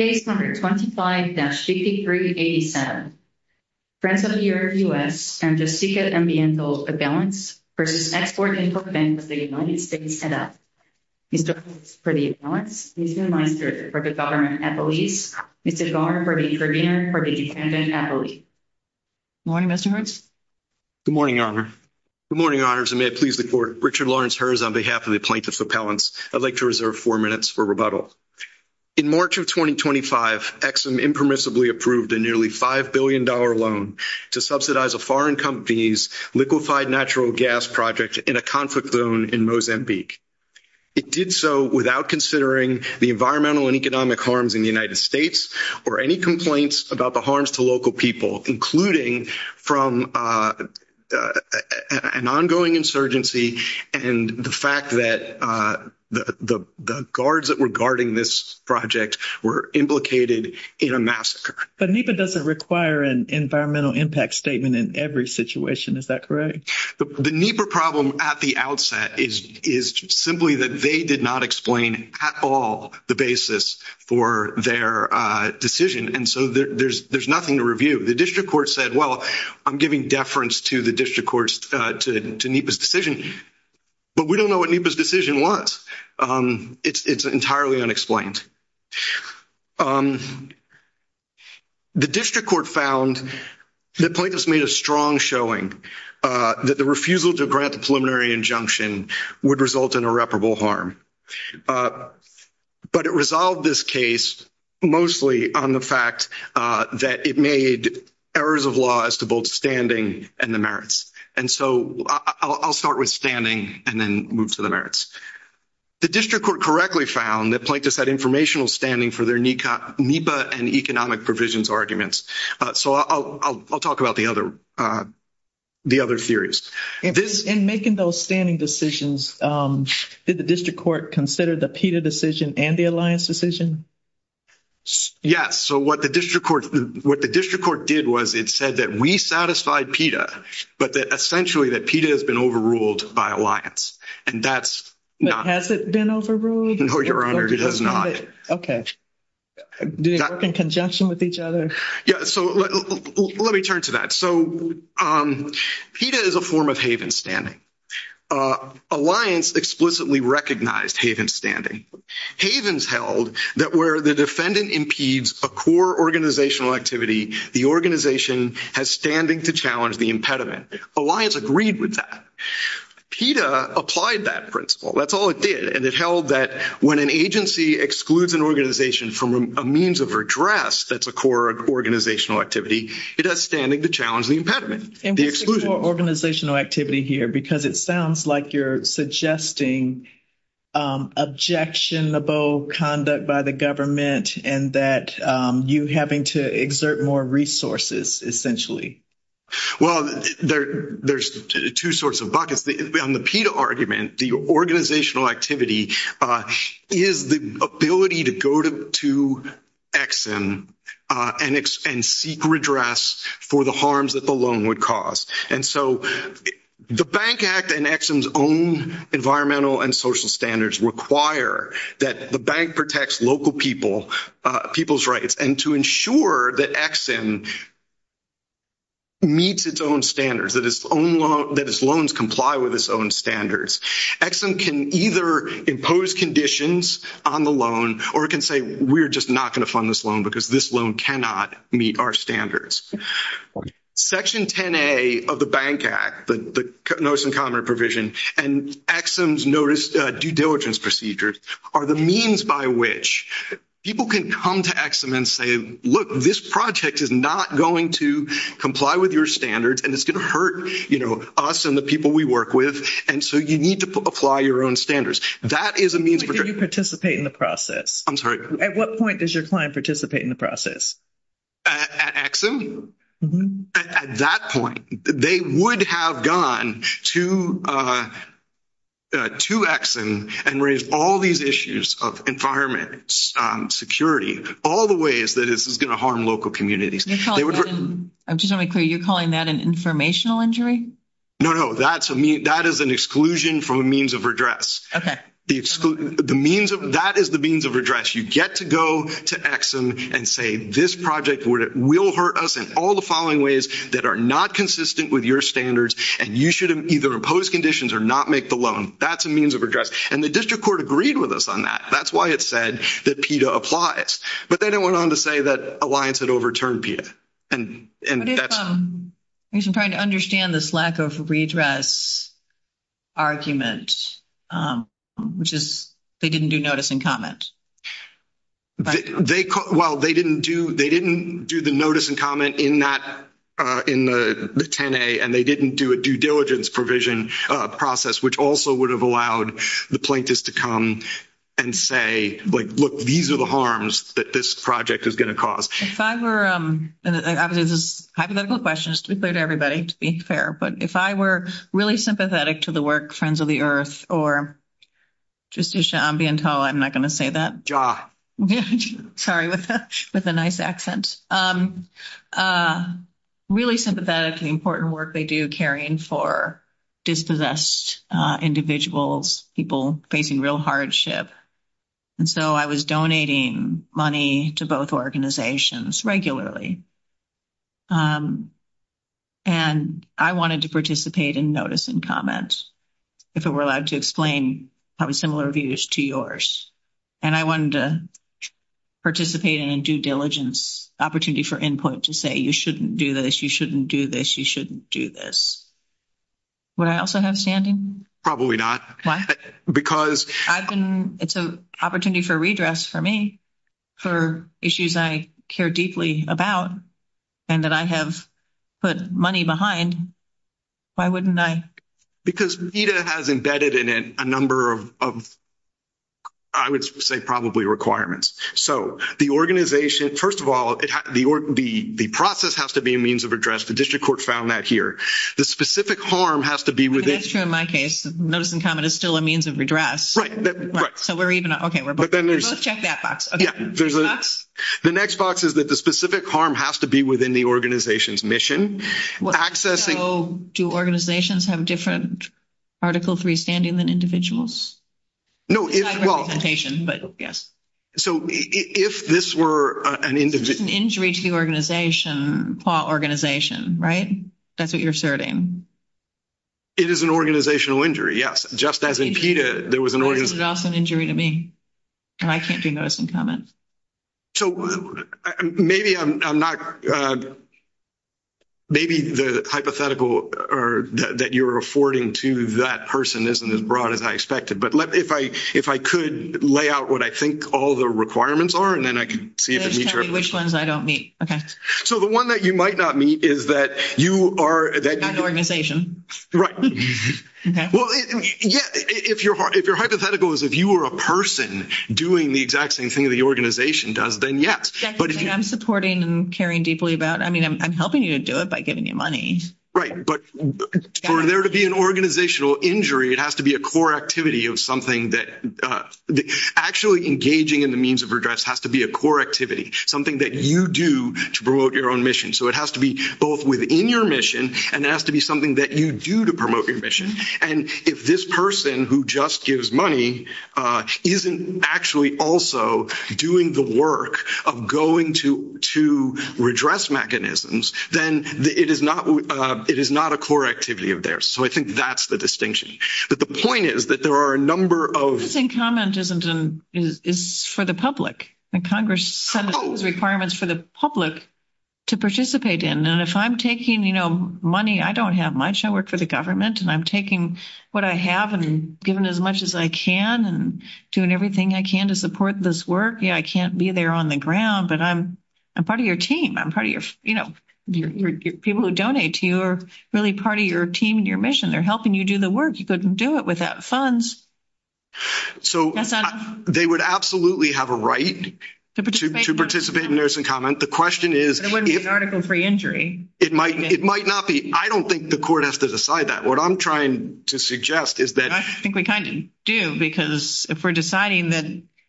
and up. Mr. Lawrence for the imbalance, Mr. Meisner for the government at the lease, Mr. Zorn for the incursion, and for the defendant at the lease. Good morning, Mr. Hearst. Good morning, Your Honor. Good morning, Your Honors, and may it please the Court. Richard Lawrence Hearst on behalf of the Plaintiffs' Appellants, I'd like to reserve four minutes for rebuttal. In March of 2019, the United Exum impermissibly approved a nearly $5 billion loan to subsidize a foreign company's liquefied natural gas project in a conflict zone in Mozambique. It did so without considering the environmental and economic harms in the United States or any complaints about the harms to local people, including from an ongoing insurgency and the fact that the guards that were conducting this project were implicated in a massacre. But NEPA doesn't require an environmental impact statement in every situation, is that correct? The NEPA problem at the outset is simply that they did not explain at all the basis for their decision, and so there's nothing to review. The district court said, well, I'm giving deference to the district court's, to NEPA's decision, but we don't know what NEPA's decision was. It's entirely unexplained. The district court found that plaintiffs made a strong showing that the refusal to grant the preliminary injunction would result in irreparable harm. But it resolved this case mostly on the fact that it made errors of law as to both standing and the merits. And so I'll start with standing and then move to the merits. The district court correctly found that plaintiffs had informational standing for their NEPA and economic provisions arguments. So I'll talk about the other theories. In making those standing decisions, did the district court consider the PETA decision and the alliance decision? Yes. So what the district court did was it said that we satisfied the PETA, but that essentially that PETA has been overruled by alliance, and that's not... Has it been overruled? No, Your Honor, it has not. Okay. Do they work in congestion with each other? Yeah, so let me turn to that. So PETA is a form of haven standing. Alliance explicitly recognized haven standing. Havens held that where the defendant impedes a core organizational activity, the organization has standing to challenge the impediment. Alliance agreed with that. PETA applied that principle. That's all it did, and it held that when an agency excludes an organization from a means of redress that's a core organizational activity, it has standing to challenge the impediment, the exclusion. And putting the word organizational activity here, because it sounds like you're suggesting objectionable conduct by the government and that you having to exert more resources, essentially. Well, there's two sorts of buckets. On the PETA argument, the organizational activity is the ability to go to Ex-Im and seek redress for the harms that the loan would cause. And the social standards require that the bank protects local people's rights and to ensure that Ex-Im meets its own standards, that its loans comply with its own standards. Ex-Im can either impose conditions on the loan or it can say, we're just not going to fund this loan because this loan cannot meet our standards. Section 10A of the Bank Act, the Notice and Comment Provision, and Ex-Im's due diligence procedures are the means by which people can come to Ex-Im and say, look, this project is not going to comply with your standards, and it's going to hurt, you know, us and the people we work with, and so you need to apply your own standards. That is a means of redress. When do you participate in the process? I'm sorry? At what point does your client participate in the process? At Ex-Im? At that point, they would have gone to Ex-Im and raised all these issues of environment, security, all the ways that this is going to harm local communities. You're calling that an informational injury? No, no, that is an exclusion from a means of redress. Okay. That is the means of redress. You get to go to Ex-Im and say, this project will hurt us in all the following ways that are not consistent with your standards, and you should either impose conditions or not make the loan. That's a means of redress. And the district court agreed with us on that. That's why it said that PETA applies. But they then went on to say that Alliance had overturned PETA, and that's... I guess I'm trying to understand this lack of redress argument, which is they didn't do notice and comment. Well, they didn't do the notice and comment in the 10A, and they didn't do a due diligence provision process, which also would have allowed the plaintiffs to come and say, like, look, these are the harms that this project is going to cause. If I were... I have a couple of questions, to be clear to everybody, to be fair. But if I were really sympathetic to the work Friends of the Earth or Justicia Ambiento, I'm not going to say that. Sorry, with a nice accent. Really sympathetic to the important work they do, caring for dispossessed individuals, people facing real hardship. And so I was donating money to both organizations regularly. And I wanted to participate in notice and comment, if it were allowed to explain probably similar views to yours. And I wanted to participate in a due diligence opportunity for input to say, you shouldn't do this, you shouldn't do this, you shouldn't do this. Would I also have a standing? Probably not. Why? Because... I've been... It's an opportunity for redress for me for issues I care deeply about and that I have put money behind. Why wouldn't I? Because DITA has embedded in it a number of, I would say, probably requirements. So the organization... First of all, the process has to be a means of redress. The district court found that here. The specific harm has to be within... That's true in my case. Notice and comment is still a means of redress. So we're even... Let's check that box. Okay. The next box is that the specific harm has to be within the organization's mission. Accessing... So do organizations have different Article III standing than individuals? No. It's not representation, but yes. So if this were an... It's an injury to the organization or organization, right? That's what you're serving. It is an organizational injury, yes. Just as in PETA, there was an organization... This is also an injury to me, and I can't do notice and comment. So maybe I'm not... Maybe the hypothetical that you're affording to that person isn't as broad as I expected. But if I could lay out what I think all the requirements are, and then I can see if it meets your... Which ones I don't meet. Okay. So the one that you might not meet is that you are... An organization. Right. Okay. Well, yeah, if your hypothetical is if you were a person doing the exact same thing the organization does, then yes. I'm supporting and caring deeply about... I mean, I'm helping you do it by giving you money. Right. But for there to be an organizational injury, it has to be a core activity of something that... Actually engaging in the means of redress has to be a core activity, something that you do to promote your own mission. So it has to be both within your mission, and it has to be something that you do to promote your mission. And if this person who just gives money isn't actually also doing the work of going to redress mechanisms, then it is not a core activity of theirs. So I think that's the distinction. But the point is that there are a number of... I do think comment is for the public. Congress sends requirements for the public to participate in. And if I'm taking money, I don't have much. I work for the government, and I'm taking what I have and giving as much as I can and doing everything I can to support this work. Yeah, I can't be there on the ground, but I'm part of your team. I'm part of your... People who donate to you are really part of your team and your mission. They're helping you do the work. You couldn't do it without funds. So they would absolutely have a right to participate in notice and comment. The question is... It wouldn't be an article-free injury. It might not be. I don't think the court has to decide that. What I'm trying to suggest is that... I think we kind of do, because if we're deciding that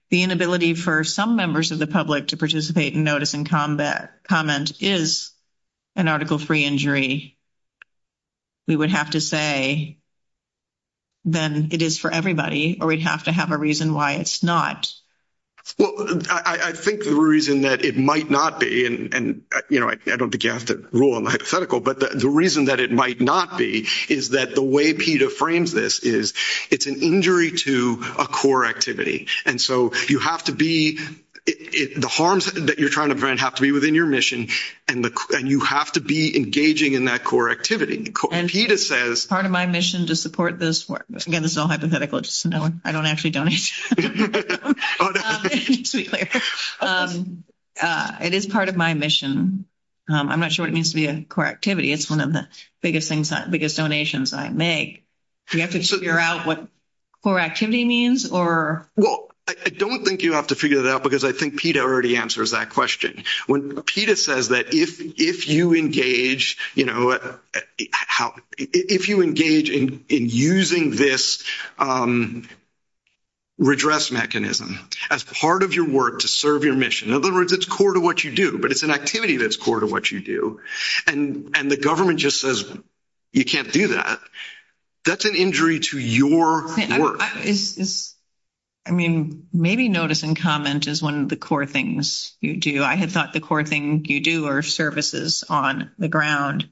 the inability for some members of the public to participate in notice and comment is an article-free injury, we would have to say then it is for everybody, or we'd have to have a reason why it's not. Well, I think the reason that it might not be, and I don't think you have to rule on the hypothetical, but the reason that it might not be is that the way PETA frames this is it's an injury to a core activity. And so you have to be... The harms that you're trying to prevent have to be within your mission, and you have to be engaging in that core activity. And PETA says... Part of my mission to support this... Again, this is all hypothetical. I don't actually donate. It is part of my mission. I'm not sure what it means to be a core activity. It's one of the biggest donations I make. Do we have to figure out what core activity means, or... Well, I don't think you have to figure that out, because I think PETA already answers that question. PETA says that if you engage in using this redress mechanism as part of your work to serve your mission... In other words, it's core to what you do, but it's an activity that's core to what you do, and the government just says, you can't do that. That's an injury to your work. I mean, maybe notice and comment is one of the core things you do. I had thought the core thing you do are services on the ground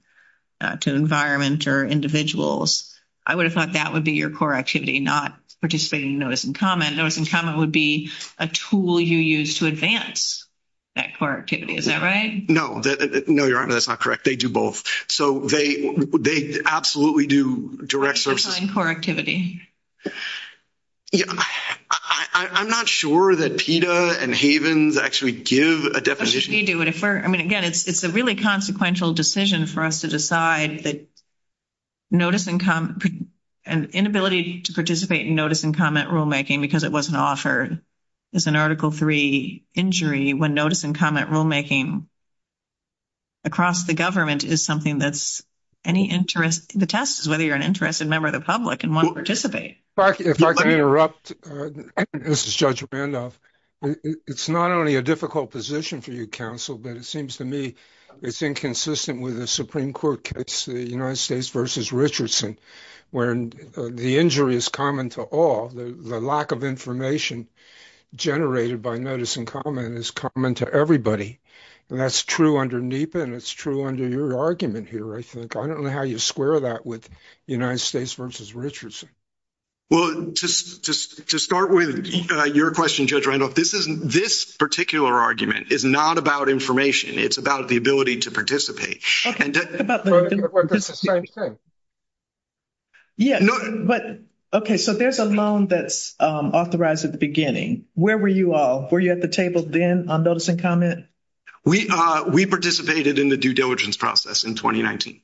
to environment or individuals. I would have thought that would be your core activity, not participating in notice and comment. Notice and comment would be a tool you use to advance that core activity. Is that right? No. No, you're right. That's not correct. They do both. So they absolutely do direct services. And core activity. Yeah. I'm not sure that PETA and Havens actually give a deposition... They do, but if we're... I mean, again, it's a really consequential decision for us to decide that notice and comment... An inability to participate in notice and comment rulemaking because it wasn't offered as an Article III injury when notice and comment rulemaking across the government is something that's any interest... The test is whether you're an interested member of the public and want to participate. If I can interrupt, this is Judge Randolph. It's not only a difficult position for you, counsel, but it seems to me it's inconsistent with the Supreme Court case, the United States v. Richardson, where the injury is common to all. The lack of information generated by notice and comment is common to everybody. And that's true under NEPA, and it's true under your argument here, I think. I don't know how you square that with United States v. Richardson. Well, just to start with your question, Judge Randolph, this particular argument is not about information. It's about the ability to participate. It's about the ability to participate. Yeah, but... Okay, so there's a loan that's authorized at the beginning. Where were you all? Were you at the table then on notice and comment? We participated in the due diligence process in 2019.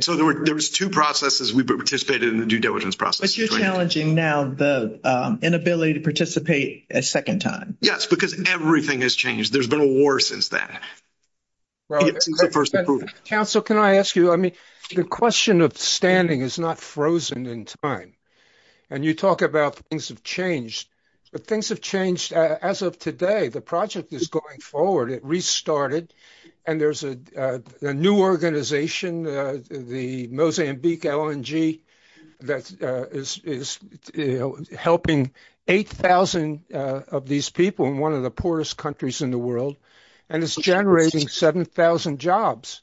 So there was two processes. We participated in the due diligence process. But you're challenging now the inability to participate a second time. Yes, because everything has changed. There's been a war since then. Well, counsel, can I ask you, I mean, the question of standing is not frozen in time. And you talk about things have changed. But things have changed as of today. The project is going forward. It restarted. And there's a new organization, the Mozambique LNG, that is helping 8,000 of these people in one of the poorest countries in the world. And it's generating 7,000 jobs.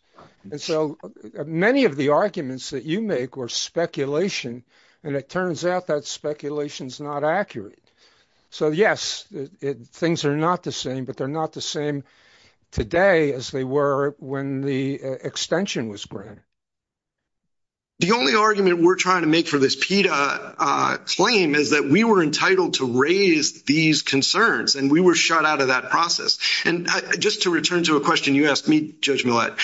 And so many of the arguments that you make were speculation. And it turns out that speculation is not accurate. So, yes, things are not the same. But they're not the same today as they were when the extension was granted. The only argument we're trying to make for this PETA claim is that we were entitled to raise these concerns. And we were shut out of that process. And just to return to a question you asked me, Judge Millett,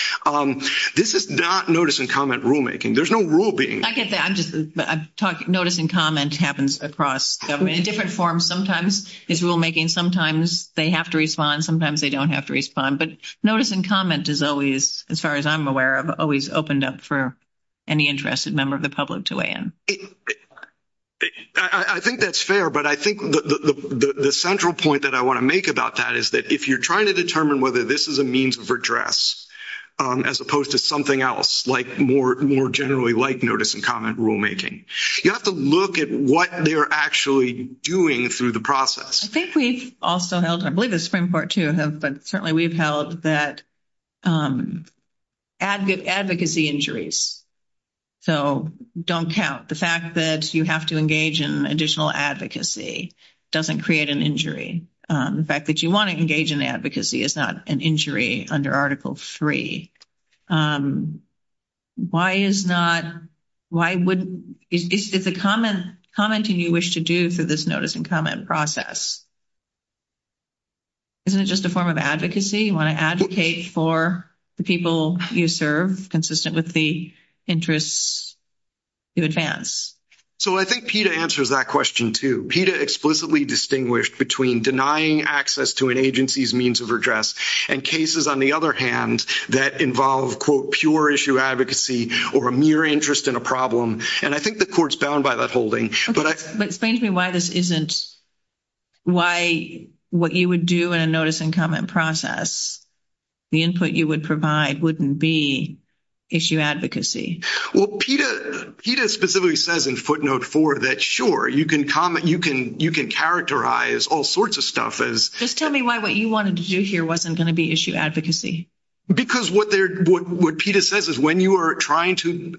this is not notice and comment rulemaking. There's no rule being... I guess I'm just... Notice and comment happens across government in different forms. Sometimes it's rulemaking. Sometimes they have to respond. Sometimes they don't have to respond. But notice and comment is always, as far as I'm aware of, always opened up for any interested member of the public to weigh in. I think that's fair. But I think the central point that I want to make about that is that if you're trying to determine whether this is a means of redress, as opposed to something else, like more generally like notice and comment rulemaking, you have to look at what they're actually doing through the process. I think we've also held, and I believe the Supreme Court, too, but certainly we've held that advocacy injuries. So don't count. The fact that you have to engage in additional advocacy doesn't create an injury. The fact that you want to engage in advocacy is not an injury under Article III. Why is not... Why would... Is it the commenting you wish to do for this notice and comment process? Isn't it just a form of advocacy? You want to advocate for the people you serve consistent with the interests you advance? So I think PETA answers that question, too. PETA explicitly distinguished between denying access to an agency's means of redress and cases, on the other hand, that involve, quote, pure issue advocacy or a mere interest in a problem. And I think the Court's bound by that holding. But explain to me why this isn't... Why what you would do in a notice and comment process, the input you would provide, wouldn't be issue advocacy. Well, PETA specifically says in footnote four that, sure, you can comment. You can characterize all sorts of stuff as... Just tell me why what you wanted to do here wasn't going to be issue advocacy. Because what PETA says is when you are trying to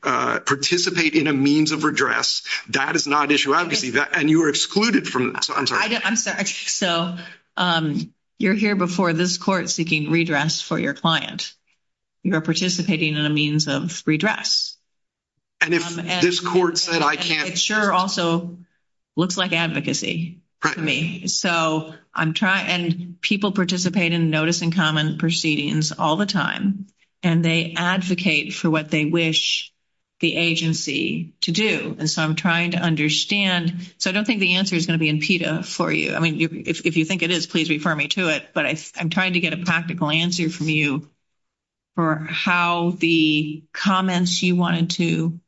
participate in a means of redress, that is not issue advocacy. And you are excluded from... I'm sorry. I'm sorry. So you're here before this Court seeking redress for your client. You are participating in a means of redress. And if this Court said I can't... And it sure also looks like advocacy to me. So I'm trying... And people participate in notice and comment proceedings all the time. And they advocate for what they wish the agency to do. And so I'm trying to understand. So I don't think the answer is going to be in PETA for you. I mean, if you think it is, please refer me to it. But I'm trying to get a practical answer from you for how the comments you wanted to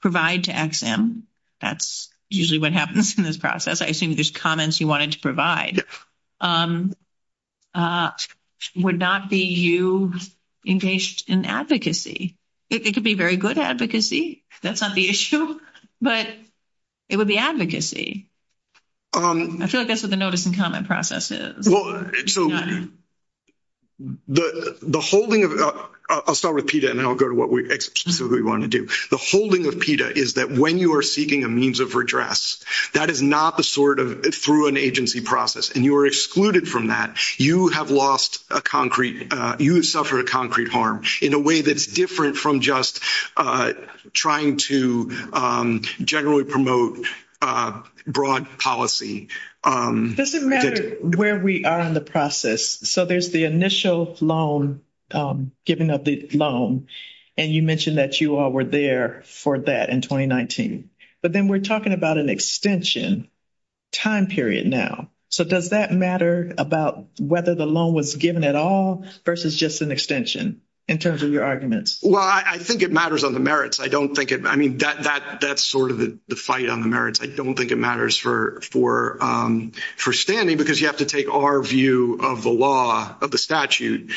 provide to EXIM. That's usually what happens in this process. I assume just comments you wanted to provide would not be you engaged in advocacy. It could be very good advocacy. That's not the issue. But it would be advocacy. I feel like that's what the notice and comment process is. Well, so the holding of... I'll start with PETA and then I'll go to what we wanted to do. The holding of PETA is that when you are seeking a means of redress, that is not the sort of through an agency process. And you are excluded from that. You have lost a concrete... You have suffered a concrete harm in a way that's different from just trying to generally promote broad policy. Does it matter where we are in the process? So there's the initial loan, giving of the loan, and you mentioned that you all were there for that in 2019. But then we're talking about an extension time period now. So does that matter about whether the loan was given at all versus just an extension in terms of your arguments? Well, I think it matters on the merits. I don't think it... I mean, that's sort of the fight on the merits. I don't think it matters for standing because you have to take our view of the law, of the statute,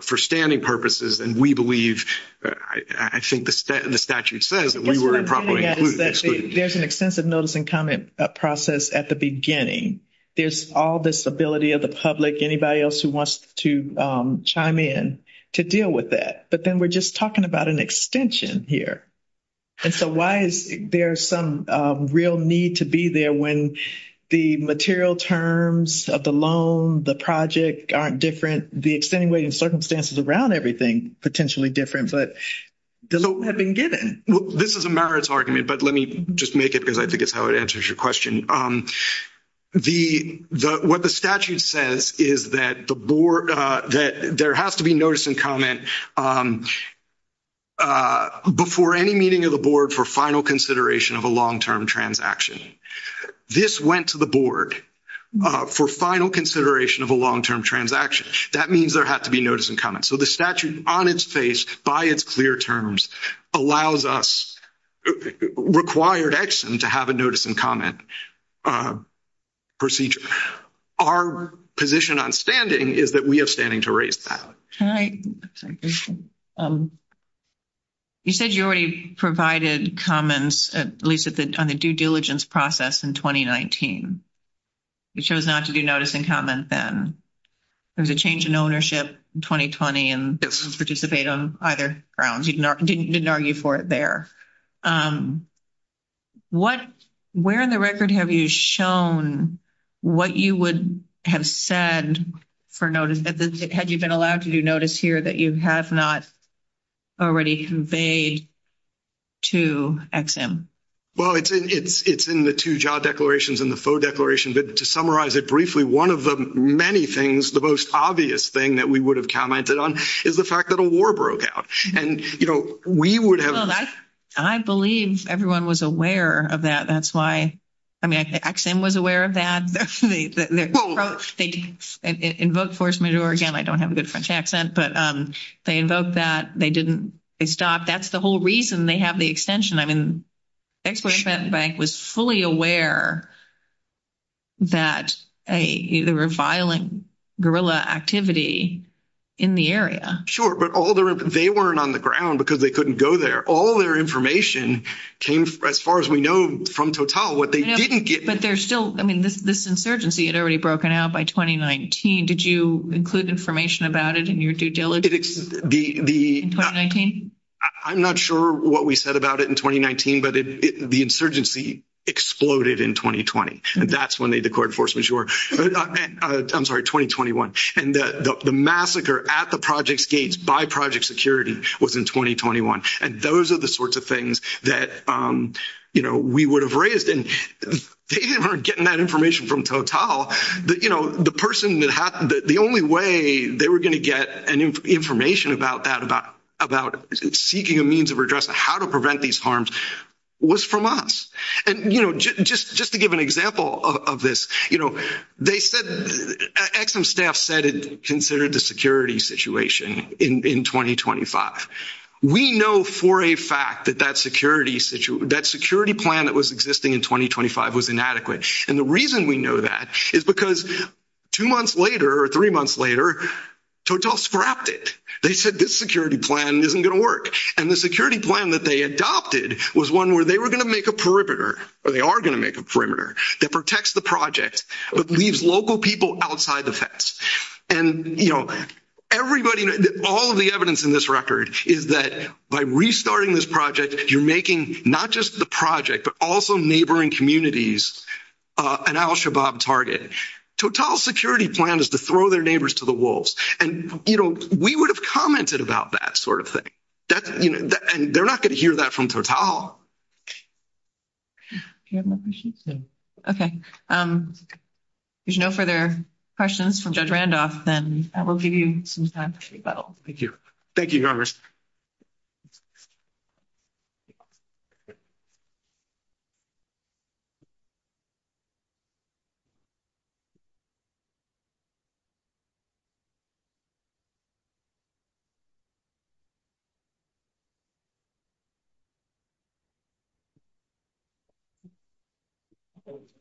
for standing purposes. And we believe, I think the statute says that we were improperly excluded. There's an extensive notice and comment process at the beginning. There's all this ability of the public, anybody else who wants to chime in, to deal with that. But then we're just talking about an extension here. And so why is there some real need to be there when the material terms of the loan, the project aren't different, the extenuating circumstances around everything potentially different, but the loan had been given? Well, this is a merits argument, but let me just make it because I think it's how it answers your question. What the statute says is that there has to be notice and comment before any meeting of the board for final consideration of a long-term transaction. This went to the board for final consideration of a long-term transaction. That means there has to be notice and comment. So the statute, on its face, by its clear terms, allows us, required Exum to have a notice and comment procedure. Our position on standing is that we have standing to raise that. You said you already provided comments, at least on the due diligence process, in 2019. You chose not to do notice and comment then. There was a change in ownership in 2020 and didn't participate on either grounds. You didn't argue for it there. Where in the record have you shown what you would have said for notice? Had you been allowed to do notice here that you have not already conveyed to Exum? Well, it's in the two job declarations and the FOA declaration. To summarize it briefly, one of the many things, the most obvious thing that we would have commented on is the fact that a war broke out. I believe everyone was aware of that. That's why Exum was aware of that. In both force majeure, again, I don't have a good French accent, but they invoked that. They didn't stop. That's the whole reason they have the extension. Exum was fully aware that there were violent guerrilla activity in the area. Sure, but they weren't on the ground because they couldn't go there. All their information came, as far as we know, from Total. This insurgency had already broken out by 2019. Did you include information about it in your due diligence in 2019? I'm not sure what we said about it in 2019, but the insurgency exploded in 2020. That's when they declared force majeure. I'm sorry, 2021. The massacre at the Project Gates by Project Security was in 2021. Those are the sorts of things that we would have raised. They weren't getting that information from Total. The only way they were going to get information about that, about seeking a means of redress, how to prevent these harms, was from us. Just to give an example of this, Exum's staff said it considered the security situation in 2025. We know for a fact that that security plan that was existing in 2025 was inadequate. The reason we know that is because two months later or three months later, Total scrapped it. They said this security plan isn't going to work. The security plan that they adopted was one where they were going to make a perimeter, or they are going to make a perimeter, that protects the project but leaves local people outside the fence. Everybody, all of the evidence in this record is that by restarting this project, you're making not just the project but also neighboring communities an Al-Shabaab target. Total's security plan is to throw their neighbors to the wolves. We would have commented about that sort of thing. They're not going to hear that from Total. Okay. If there's no further questions from Judge Randolph, then I will give you some time to go. Thank you. Thank you, Congress.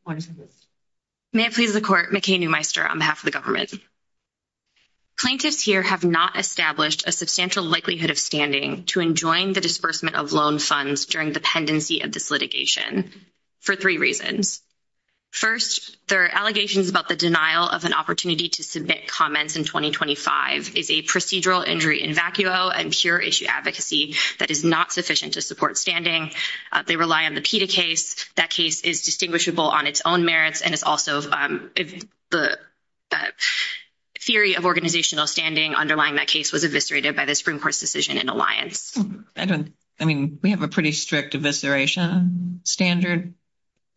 One second. May it please the Court, McKay Newmeister on behalf of the government. Plaintiffs here have not established a substantial likelihood of standing to enjoin the disbursement of loan funds during the pendency of this litigation for three reasons. First, their allegations about the denial of an opportunity to submit comments in 2025 is a procedural injury in vacuo and pure issue advocacy that is not sufficient to support standing. They rely on the PETA case. That case is distinguishable on its own merits, and it's also the theory of organizational standing underlying that case was eviscerated by the Supreme Court's decision in Alliance. I mean, we have a pretty strict evisceration standard.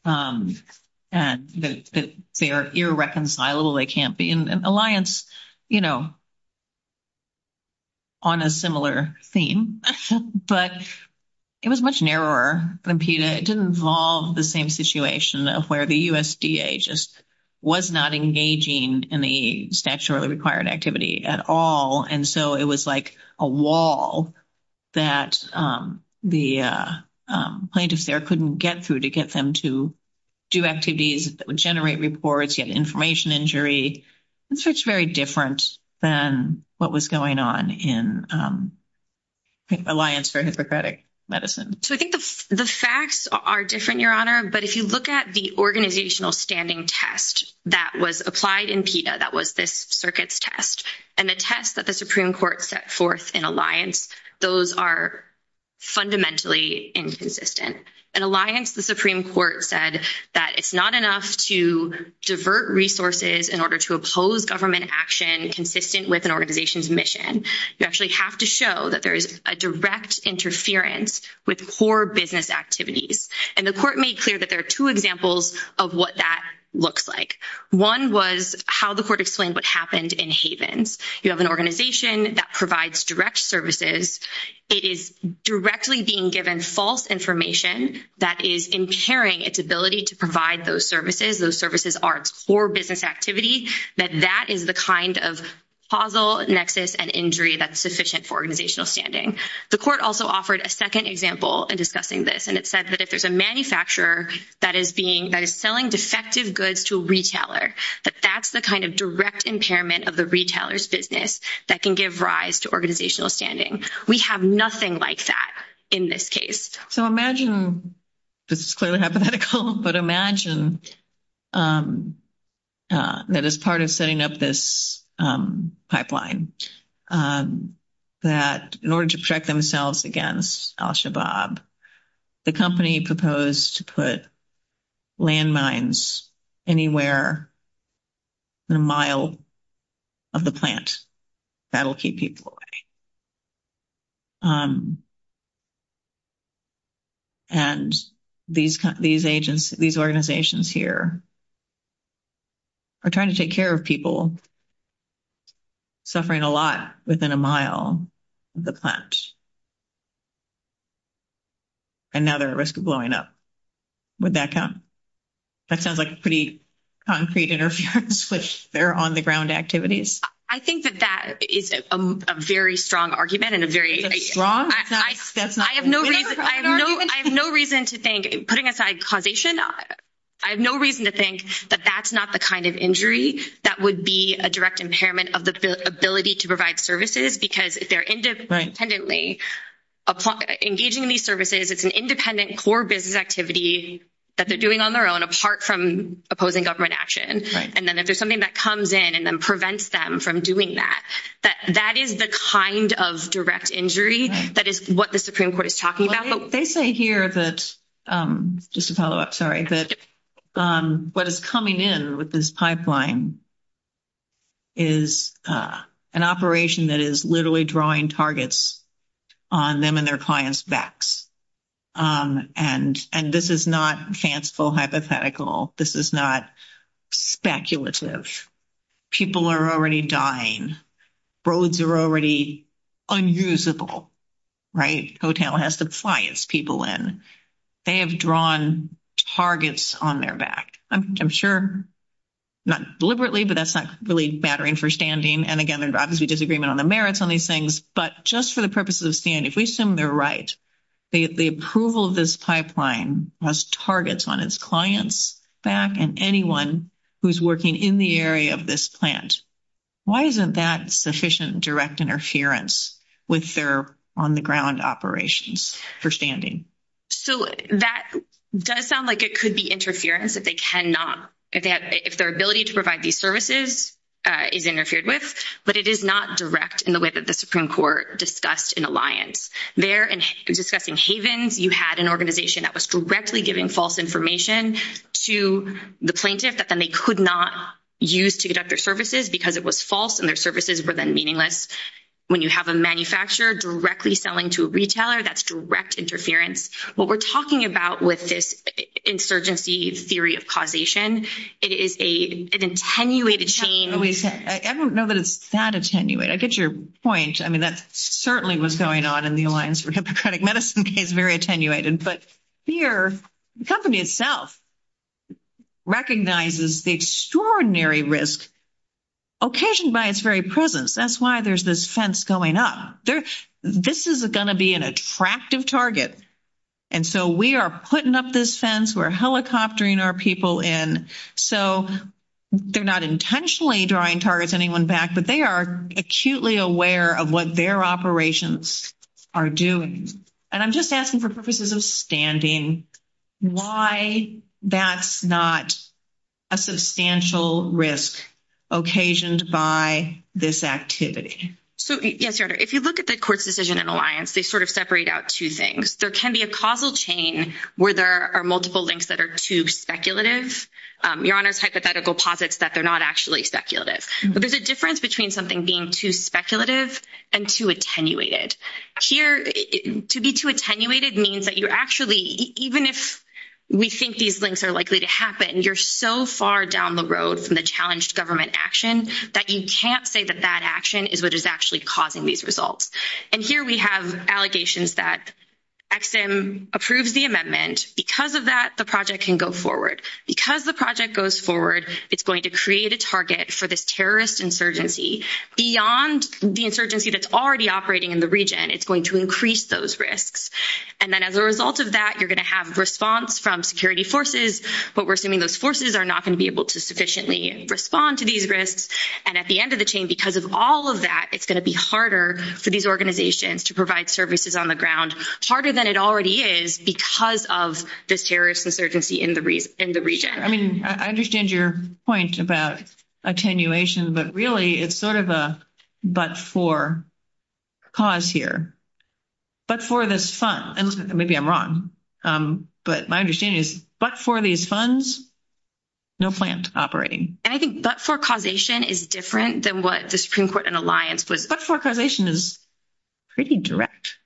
They are irreconcilable. They can't be in an alliance, you know, on a similar theme. But it was much narrower than PETA. It didn't involve the same situation of where the USDA just was not engaging in the statutory required activity at all. And so it was like a wall that the plaintiffs there couldn't get through to get them to do activities that would generate reports, get information injury. And so it's very different than what was going on in Alliance for Hypocratic Medicine. So I think the facts are different, Your Honor, but if you look at the organizational standing test that was applied in PETA, that was this circuit's test, and the test that the Supreme Court set forth in Alliance, those are fundamentally inconsistent. In Alliance, the Supreme Court said that it's not enough to divert resources in order to oppose government action consistent with an organization's mission. You actually have to show that there is a direct interference with core business activities. And the court made clear that there are two examples of what that looks like. One was how the court explained what happened in Havens. You have an organization that provides direct services. It is directly being given false information that is impairing its ability to provide those services. Those services are core business activities, that that is the kind of causal nexus and injury that's sufficient for organizational standing. The court also offered a second example in discussing this, and it says that if there's a manufacturer that is selling defective goods to a retailer, that that's the kind of direct impairment of the retailer's business that can give rise to organizational standing. We have nothing like that in this case. So imagine, this is clearly hypothetical, but imagine that as part of setting up this pipeline, that in order to protect themselves against al-Shabaab, the company proposed to put landmines anywhere within a mile of the plant. That will keep people away. And these organizations here are trying to take care of people suffering a lot within a mile of the plant. And now they're at risk of blowing up. Would that count? That sounds like a pretty concrete interference, but they're on-the-ground activities. I think that that is a very strong argument and a very— Strong? I have no reason to think, putting aside causation, I have no reason to think that that's not the kind of injury that would be a direct impairment of the ability to provide services because they're independently engaging in these services. It's an independent core business activity that they're doing on their own apart from opposing government action. And then if there's something that comes in and then prevents them from doing that, that is the kind of direct injury that is what the Supreme Court is talking about. They say here that—just to follow up, sorry— that what is coming in with this pipeline is an operation that is literally drawing targets on them and their clients' backs. And this is not fanciful hypothetical. This is not speculative. People are already dying. Roads are already unusable, right? The hotel has to fly its people in. They have drawn targets on their back. I'm sure—not deliberately, but that's not really battering for standing. And again, there's obviously disagreement on the merits on these things. But just for the purposes of standing, if we assume they're right, the approval of this pipeline has targets on its clients' back and anyone who's working in the area of this plant, why isn't that sufficient direct interference with their on-the-ground operations for standing? So that does sound like it could be interference if they cannot— if their ability to provide these services is interfered with. But it is not direct in the way that the Supreme Court discussed in Alliance. There, in discussing Havens, you had an organization that was directly giving false information to the plaintiffs and they could not use to conduct their services because it was false and their services were then meaningless. When you have a manufacturer directly selling to a retailer, that's direct interference. What we're talking about with this insurgency theory of causation, it is an attenuated chain— I don't know that it's that attenuated. I get your point. I mean, that certainly was going on in the Alliance for Hippocratic Medicine case, very attenuated. But here, the company itself recognizes the extraordinary risk occasioned by its very presence. That's why there's this fence going up. This is going to be an attractive target. And so we are putting up this fence. We're helicoptering our people in. So they're not intentionally drawing targets on anyone's back, but they are acutely aware of what their operations are doing. And I'm just asking for purposes of standing why that's not a substantial risk occasioned by this activity. So, yes, Your Honor, if you look at the court's decision in the Alliance, they sort of separate out two things. There can be a causal chain where there are multiple links that are too speculative. Your Honor's hypothetical posits that they're not actually speculative. But there's a difference between something being too speculative and too attenuated. Here, to be too attenuated means that you're actually, even if we think these links are likely to happen, you're so far down the road from the challenged government action that you can't say that that action is what is actually causing these results. And here we have allegations that EXIM approves the amendment. Because of that, the project can go forward. Because the project goes forward, it's going to create a target for this terrorist insurgency. Beyond the insurgency that's already operating in the region, it's going to increase those risks. And then as a result of that, you're going to have response from security forces. But we're assuming those forces are not going to be able to sufficiently respond to these risks. And at the end of the chain, because of all of that, it's going to be harder for these organizations to provide services on the ground, harder than it already is because of the terrorist insurgency in the region. I mean, I understand your point about attenuation, but really it's sort of a but-for cause here. But-for this fund, and maybe I'm wrong, but my understanding is but-for these funds, no plant operating. And I think but-for causation is different than what the Supreme Court in alliance with. But-for causation is pretty direct.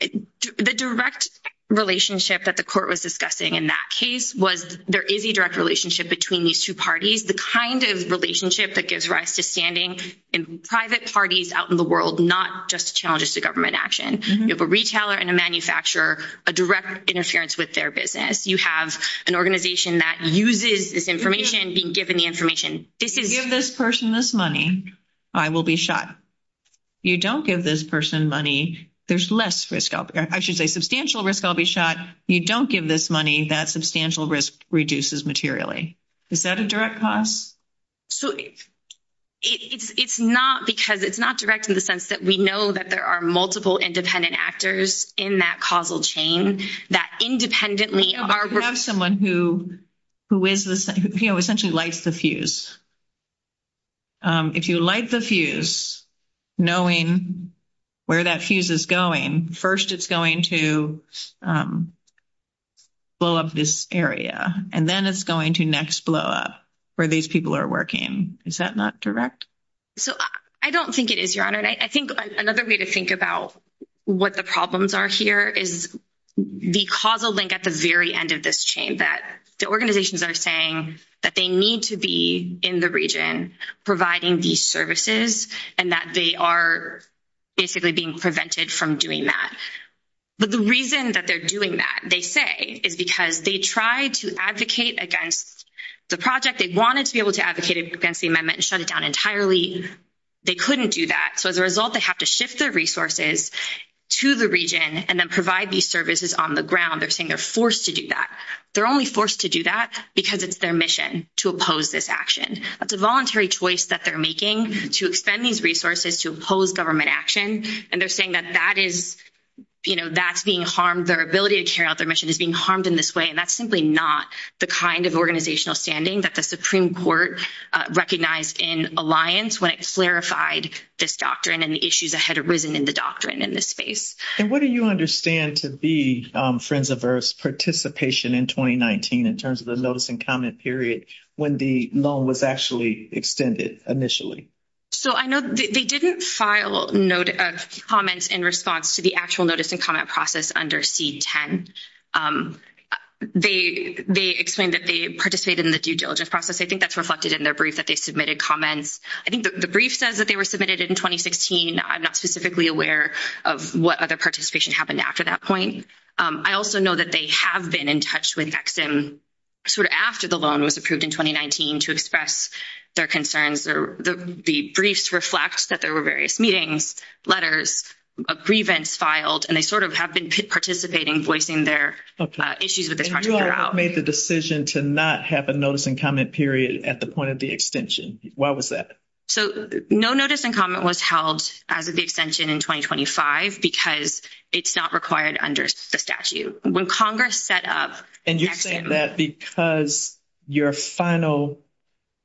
The direct relationship that the court was discussing in that case was there is a direct relationship between these two parties. The kind of relationship that gives rise to standing in private parties out in the world, not just challenges to government action. You have a retailer and a manufacturer, a direct interference with their business. You have an organization that uses this information being given the information. If you give this person this money, I will be shot. You don't give this person money, there's less risk. I should say substantial risk, I'll be shot. You don't give this money, that substantial risk reduces materially. Is that a direct cause? So it's not because-it's not direct in the sense that we know that there are multiple independent actors in that causal chain that independently are- You have someone who is essentially lights the fuse. If you light the fuse, knowing where that fuse is going, first it's going to blow up this area. And then it's going to next blow up where these people are working. Is that not direct? I don't think it is, Your Honor. And I think another way to think about what the problems are here is the causal link at the very end of this chain that the organizations are saying that they need to be in the region providing these services and that they are basically being prevented from doing that. But the reason that they're doing that, they say, is because they tried to advocate against the project. They wanted to be able to advocate against the amendment and shut it down entirely. They couldn't do that. So as a result, they have to shift their resources to the region and then provide these services on the ground. They're saying they're forced to do that. They're only forced to do that because it's their mission to oppose this action. It's a voluntary choice that they're making to expend these resources to oppose government action. And they're saying that that is, you know, that's being harmed, their ability to carry out their mission is being harmed in this way. And that's simply not the kind of organizational standing that the Supreme Court recognized in alliance when it clarified this doctrine and the issues that had arisen in the doctrine in this space. And what do you understand to be Friends of Earth's participation in 2019 in terms of the notice and comment period when the loan was actually extended initially? So I know they didn't file comments in response to the actual notice and comment process under C-10. They explained that they participated in the due diligence process. I think that's reflected in their brief that they submitted comments. I think the brief says that they were submitted in 2016. I'm not specifically aware of what other participation happened after that point. I also know that they have been in touch with EXIM sort of after the loan was approved in 2019 to express their concerns. The briefs reflect that there were various meetings, letters of grievance filed, and they sort of have been participating, voicing their issues that they're trying to figure out. Who else made the decision to not have a notice and comment period at the point of the extension? Why was that? So no notice and comment was held at the extension in 2025 because it's not required under the statute. When Congress set up— And you're saying that because your final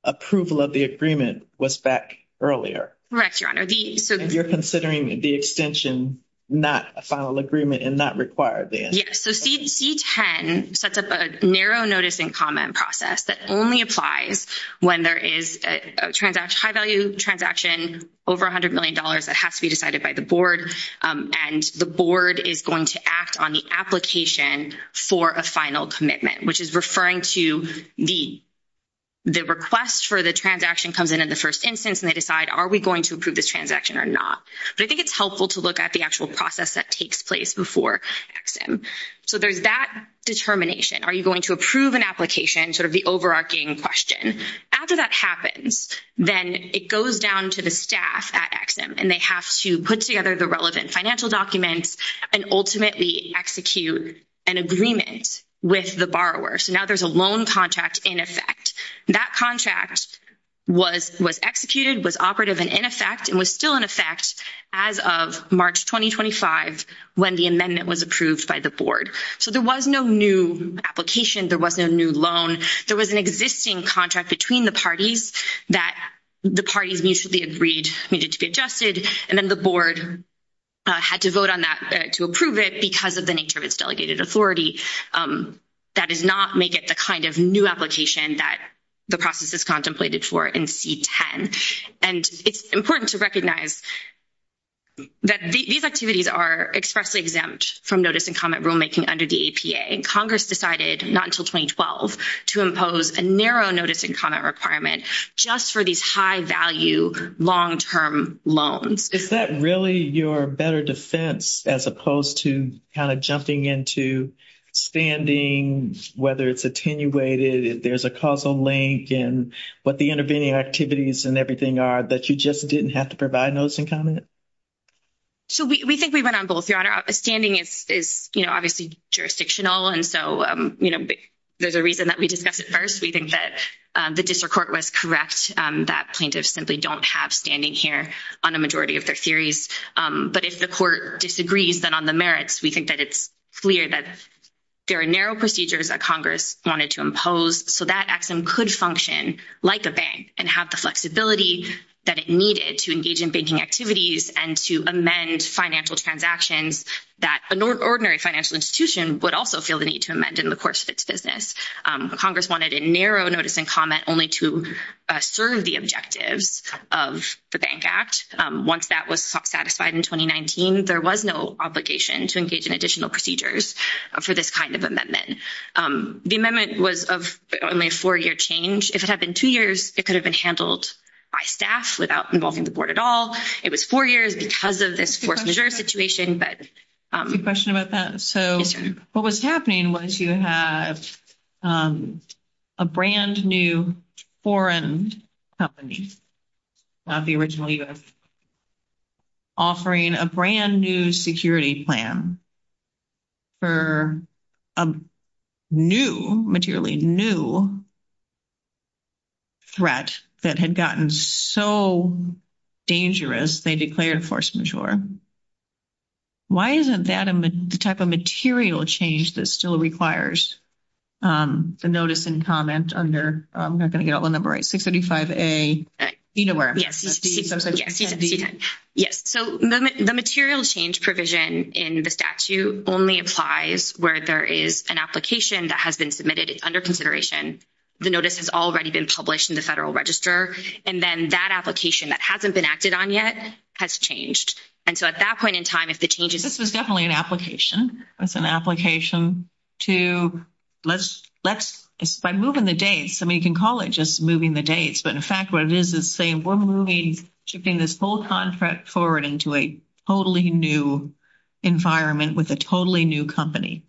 approval of the agreement was back earlier. Correct, Your Honor. You're considering the extension not a final agreement and not required then. Yes. So C-10 sets up a narrow notice and comment process that only applies when there is a high-value transaction over $100 million that has to be decided by the board, and the board is going to act on the application for a final commitment, which is referring to the request for the transaction comes in in the first instance, and they decide are we going to approve the transaction or not. But I think it's helpful to look at the actual process that takes place before EXIM. So there's that determination. Are you going to approve an application? Sort of the overarching question. After that happens, then it goes down to the staff at EXIM, and they have to put together the relevant financial documents and ultimately execute an agreement with the borrower. So now there's a loan contract in effect. That contract was executed, was operative and in effect, and was still in effect as of March 2025 when the amendment was approved by the board. So there was no new application. There wasn't a new loan. There was an existing contract between the parties that the parties needed to be adjusted, and then the board had to vote on that to approve it because of the nature of its delegated authority. That did not make it the kind of new application that the process is contemplated for in C-10. And it's important to recognize that these activities are expressly exempt from notice and comment rulemaking under the APA, and Congress decided not until 2012 to impose a narrow notice and comment requirement just for these high-value long-term loans. Is that really your better defense as opposed to kind of jumping into standings, whether it's attenuated, if there's a causal link and what the intervening activities and everything are that you just didn't have to provide notice and comment? So we think we run on both, Your Honor. Standing is, you know, obviously jurisdictional, and so, you know, there's a reason that we discussed it first. We think that the district court was correct, that plaintiffs simply don't have standing here on a majority of their series. But if the court disagrees, then on the merits, we think that it's clear that there are narrow procedures that Congress wanted to impose, so that EXIM could function like a bank and have the flexibility that it needed to engage in banking activities and to amend financial transactions that an ordinary financial institution would also feel the need to amend in the course of its business. Congress wanted a narrow notice and comment only to serve the objectives of the Bank Act. Once that was satisfied in 2019, there was no obligation to engage in additional procedures for this kind of amendment. The amendment was only a four-year change. If it had been two years, it could have been handled by staff without involving the board at all. It was four years because of this four-figure situation. Good question about that. So what was happening was you have a brand-new foreign company, not the original U.S., offering a brand-new security plan for a new, materially new, threat that had gotten so dangerous they declared force majeure. Why isn't that the type of material change that still requires the notice and comment under, I'm not going to get all the numbers right, 635A? Yes. So the material change provision in the statute only applies where there is an application that has been submitted under consideration. The notice has already been published in the Federal Register. And then that application that hasn't been acted on yet has changed. And so at that point in time, if the change is— This is definitely an application. It's an application to let's—by moving the dates, I mean, you can call it just moving the dates. But, in fact, what it is is saying we're moving—shifting this whole contract forward into a totally new environment with a totally new company.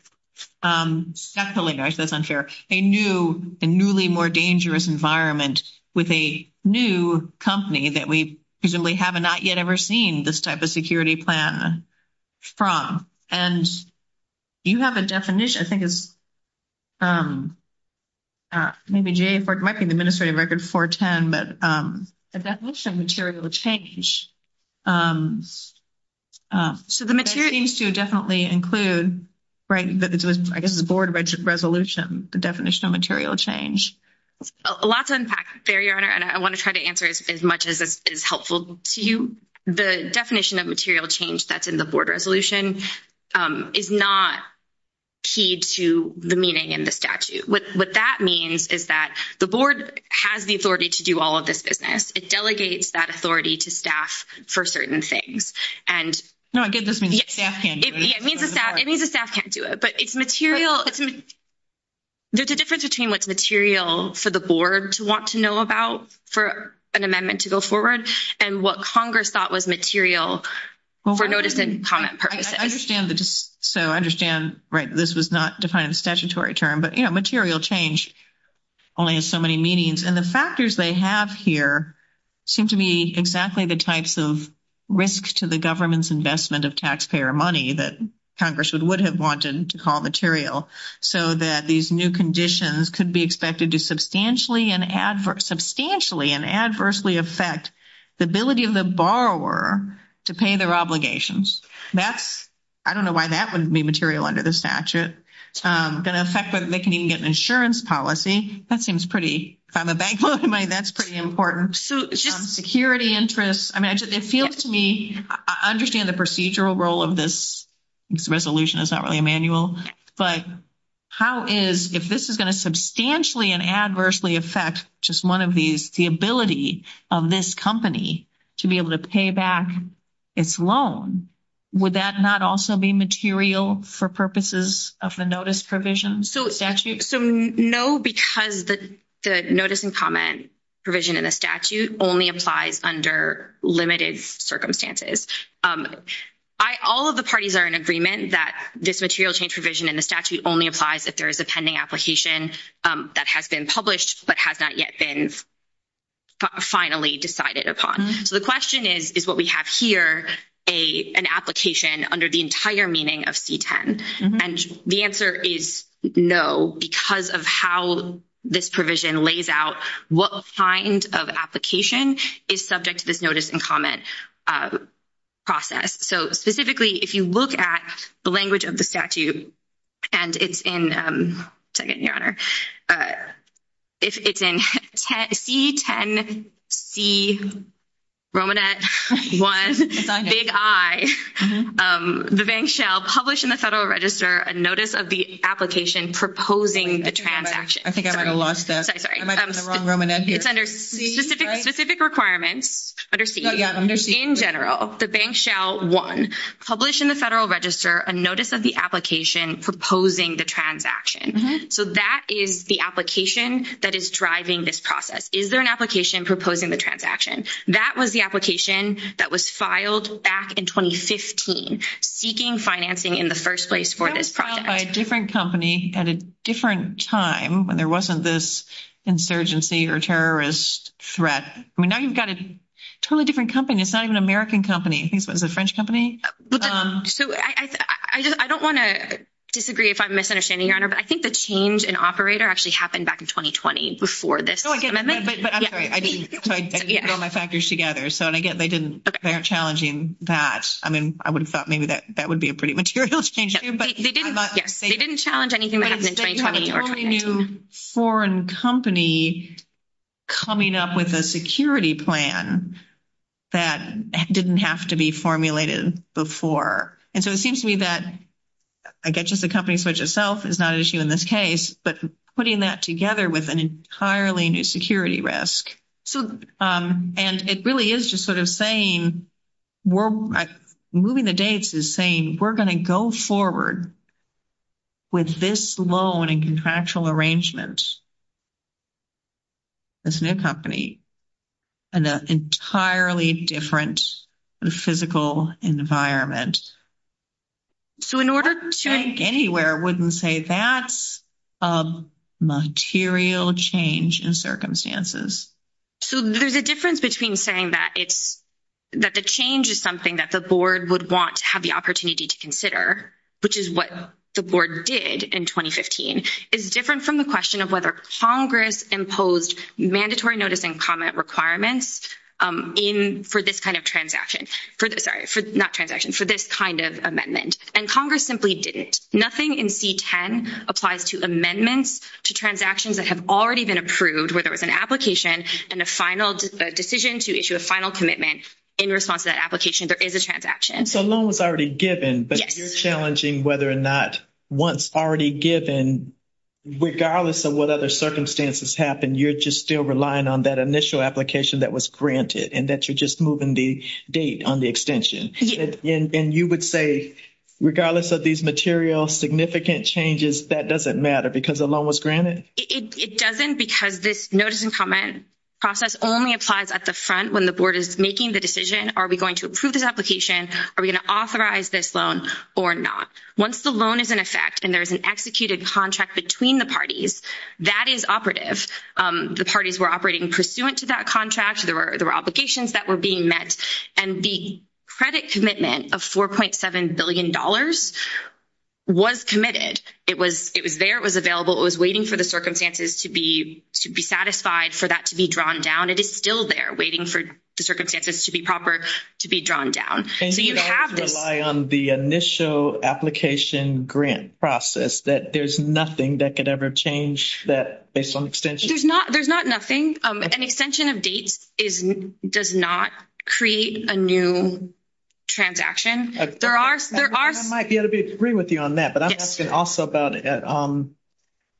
That's hilarious. That's unfair. A new and newly more dangerous environment with a new company that we presumably have not yet ever seen this type of security plan from. And you have a definition. I think it's maybe GA4—it might be the Administrative Record 410, but a definition of material change. So the material— That seems to definitely include, right, I guess the board resolution, the definition of material change. Lots of impacts there, Your Honor. And I want to try to answer as much as is helpful to you. The definition of material change that's in the board resolution is not key to the meaning in the statute. What that means is that the board has the authority to do all of this business. It delegates that authority to staff for certain things. No, it gives us—staff can't do it. It means the staff can't do it. But it's material—there's a difference between what's material for the board to want to know about for an amendment to go forward and what Congress thought was material for notice and comment purposes. I understand. So I understand, right, this was not defined in a statutory term. But, you know, material change only has so many meanings. And the factors they have here seem to be exactly the types of risks to the government's investment of taxpayer money that Congress would have wanted to call material so that these new conditions could be expected to substantially and adversely affect the ability of the borrower to pay their obligations. That's—I don't know why that wouldn't be material under the statute. It would affect whether they can even get an insurance policy. That seems pretty—if I'm a bank, that's pretty important. Security interests. I mean, it feels to me—I understand the procedural role of this resolution. It's not really manual. But how is—if this is going to substantially and adversely affect just one of these, the ability of this company to be able to pay back its loan, would that not also be material for purposes of the notice provision? So statute— No, because the notice and comment provision in the statute only applies under limited circumstances. All of the parties are in agreement that this material change provision in the statute only applies if there is a pending application that has been published but has not yet been finally decided upon. So the question is, is what we have here an application under the entire meaning of C-10? And the answer is no because of how this provision lays out what kind of application is subject to this notice and comment process. So specifically, if you look at the language of the statute, and it's in—second, Your Honor. It's in C-10C, Romanet 1, Big I. The bank shall publish in the Federal Register a notice of the application proposing the transaction. I think I might have lost that. Sorry, sorry. I might have put the wrong Romanet here. It's under C, right? Specific requirements under C. Oh, yeah, under C. In general, the bank shall, one, publish in the Federal Register a notice of the application proposing the transaction. So that is the application that is driving this process. Is there an application proposing the transaction? That was the application that was filed back in 2015 seeking financing in the first place for this process. It was filed by a different company at a different time when there wasn't this insurgency or terrorist threat. I mean, now you've got a totally different company. It's not even an American company. I think it was a French company. I don't want to disagree if I'm misunderstanding, Your Honor. But I think the change in operator actually happened back in 2020 before this amendment. I'm sorry. I didn't put all my factors together. So, again, they didn't—they're challenging that. I mean, I would have thought maybe that would be a pretty material change too. Yes, they didn't challenge anything. But you have a new foreign company coming up with a security plan that didn't have to be formulated before. And so it seems to me that, again, just the company switch itself is not an issue in this case, but putting that together with an entirely new security risk. And it really is just sort of saying—moving the dates is saying we're going to go forward with this loan and contractual arrangement, this new company, in an entirely different physical environment. So in order to— I think anywhere wouldn't say that's a material change in circumstances. So there's a difference between saying that it's—that the change is something that the board would want to have the opportunity to consider, which is what the board did in 2015, is different from the question of whether Congress imposed mandatory notice and comment requirements in—for this kind of transaction. Sorry, not transaction, for this kind of amendment. And Congress simply didn't. Nothing in C-10 applies to amendments to transactions that have already been approved, whether it's an application and the final—the decision to issue a final commitment in response to that application, there is a transaction. So a loan was already given, but you're challenging whether or not one's already given, and regardless of what other circumstances happen, you're just still relying on that initial application that was granted and that you're just moving the date on the extension. And you would say, regardless of these material significant changes, that doesn't matter because the loan was granted? It doesn't because this notice and comment process only applies at the front when the board is making the decision, are we going to approve the application, are we going to authorize this loan or not? Once the loan is in effect and there's an executed contract between the parties, that is operative. The parties were operating pursuant to that contract, there were obligations that were being met, and the credit commitment of $4.7 billion was committed. It was there, it was available, it was waiting for the circumstances to be satisfied for that to be drawn down, and it's still there waiting for the circumstances to be proper to be drawn down. And you don't have to rely on the initial application grant process, that there's nothing that could ever change that based on extension? There's not-there's not nothing. An extension of date is-does not create a new transaction. There are-there are... I might be able to agree with you on that, but I'm asking also about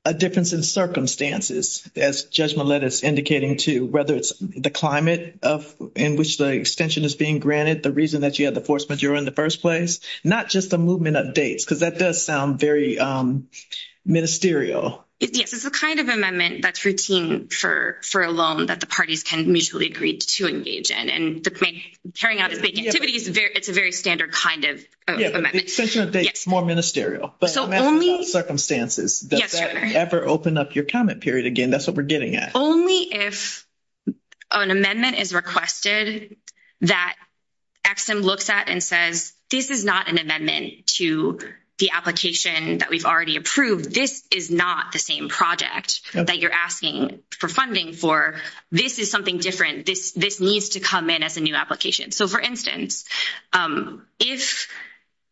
a difference in circumstances, as Judge Melendez is indicating too, whether it's the climate of-in which the extension is being granted, the reason that you had the force majeure in the first place, not just the movement of dates, because that does sound very ministerial. Yes, it's the kind of amendment that's routine for a loan that the parties can mutually agree to engage in, and the thing-turning out of the activity, it's a very standard kind of amendment. Yes, extension of date is more ministerial. So only- But it's a matter of circumstances. Yes, sure. Does that ever open up your comment period again? That's what we're getting at. Only if an amendment is requested that EXIM looks at and says, this is not an amendment to the application that we've already approved. This is not the same project that you're asking for funding for. This is something different. This needs to come in as a new application. So, for instance, if,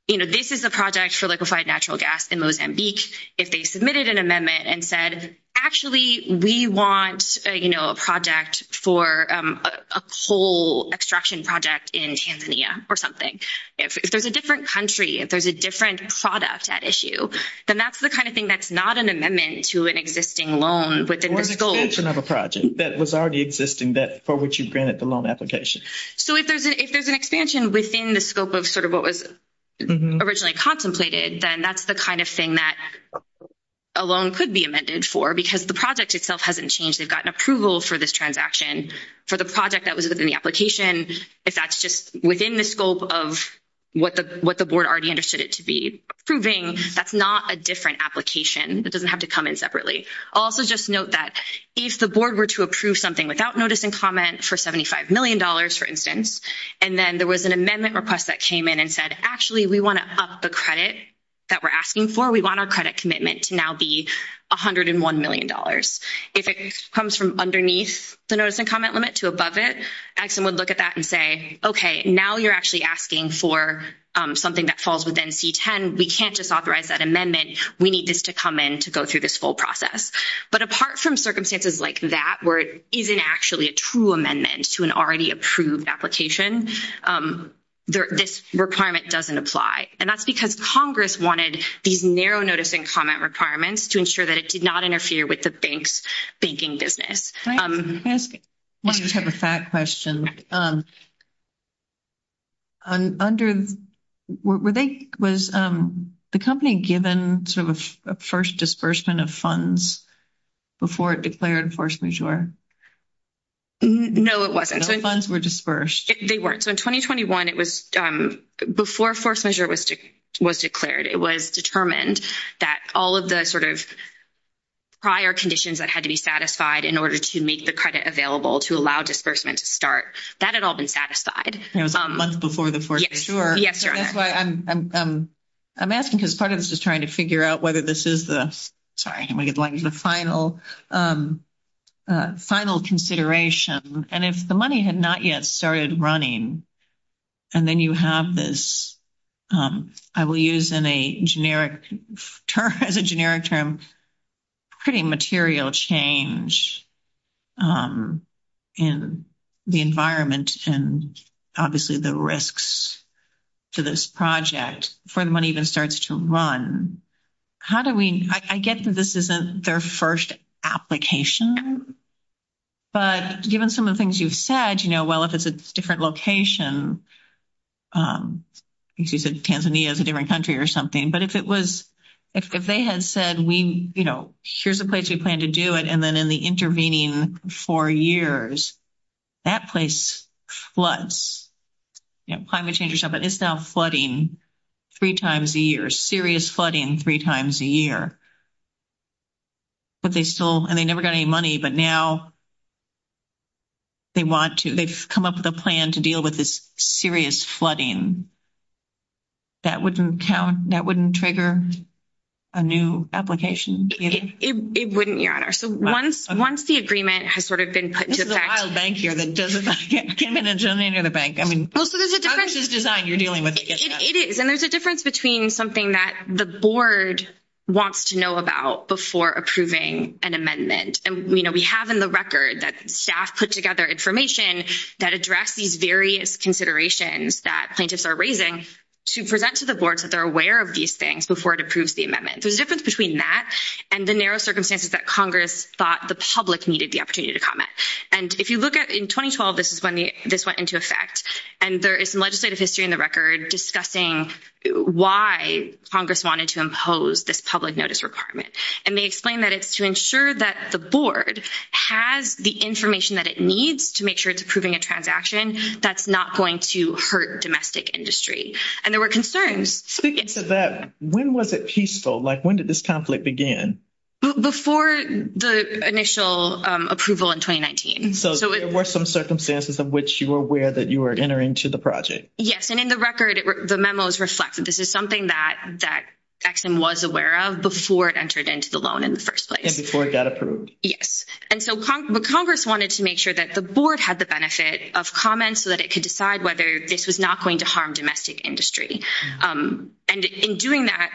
you know, this is a project for liquefied natural gas in Mozambique, if they submitted an amendment and said, actually, we want, you know, a project for a coal extraction project in Tanzania or something. If there's a different country, if there's a different product at issue, then that's the kind of thing that's not an amendment to an existing loan within the scope- Or an extension of a project that was already existing for which you granted the loan application. So if there's an expansion within the scope of sort of what was originally contemplated, then that's the kind of thing that a loan could be amended for, because the project itself hasn't changed. They've gotten approval for this transaction. For the project that was within the application, if that's just within the scope of what the board already understood it to be approving, that's not a different application. It doesn't have to come in separately. Also just note that if the board were to approve something without notice and comment for $75 million, for instance, and then there was an amendment request that came in and said, actually, we want to up the credit that we're asking for. We want our credit commitment to now be $101 million. If it comes from underneath the notice and comment limit to above it, someone would look at that and say, okay, now you're actually asking for something that falls within C-10. We can't just authorize that amendment. We need this to come in to go through this whole process. But apart from circumstances like that where it isn't actually a true amendment to an already approved application, this requirement doesn't apply. And that's because Congress wanted these narrow notice and comment requirements to ensure that it did not interfere with the bank's banking business. I just have a fact question. Was the company given sort of a first disbursement of funds before it declared force majeure? No, it wasn't. Those funds were disbursed. They weren't. So in 2021, it was before force majeure was declared. It was determined that all of the sort of prior conditions that had to be satisfied in order to make the credit available to allow disbursement to start, that had all been satisfied. It was before the force majeure. Yes, Your Honor. That's why I'm asking because part of this is trying to figure out whether this is the final consideration. And if the money had not yet started running and then you have this, I will use as a generic term, pretty material change in the environment and obviously the risks to this project for the money that starts to run. How do we, I guess this isn't their first application, but given some of the things you've said, you know, well, if it's a different location, excuse me, Tanzania is a different country or something, but if it was, if they had said, we, you know, here's a place we plan to do it. And then in the intervening four years, that place floods. You know, climate change and stuff, but it's now flooding three times a year, serious flooding three times a year. But they still, and they never got any money, but now they want to, they've come up with a plan to deal with this serious flooding. That wouldn't count, that wouldn't trigger a new application? It wouldn't, Your Honor. So once the agreement has sort of been put into effect. This is a wild bank here. I mean, how is this designed? You're dealing with tickets. It is. And there's a difference between something that the board wants to know about before approving an amendment. And, you know, we have in the record that staff put together information that address these various considerations that plaintiffs are raising to present to the boards that they're aware of these things before it approves the amendment. So the difference between that and the narrow circumstances that Congress thought the public needed the opportunity to comment. And if you look at, in 2012, this is when this went into effect. And there is some legislative history in the record discussing why Congress wanted to impose this public notice requirement. And they explain that it's to ensure that the board has the information that it needs to make sure it's approving a transaction that's not going to hurt domestic industry. And there were concerns. Speaking of that, when was it peaceful? Like, when did this conflict begin? Before the initial approval in 2019. So there were some circumstances of which you were aware that you were entering into the project. Yes. And in the record, the memo is reflected. This is something that Ex-Im was aware of before it entered into the loan in the first place. And before it got approved. Yes. And so Congress wanted to make sure that the board had the benefit of comments so that it could decide whether this was not going to harm domestic industry. And in doing that,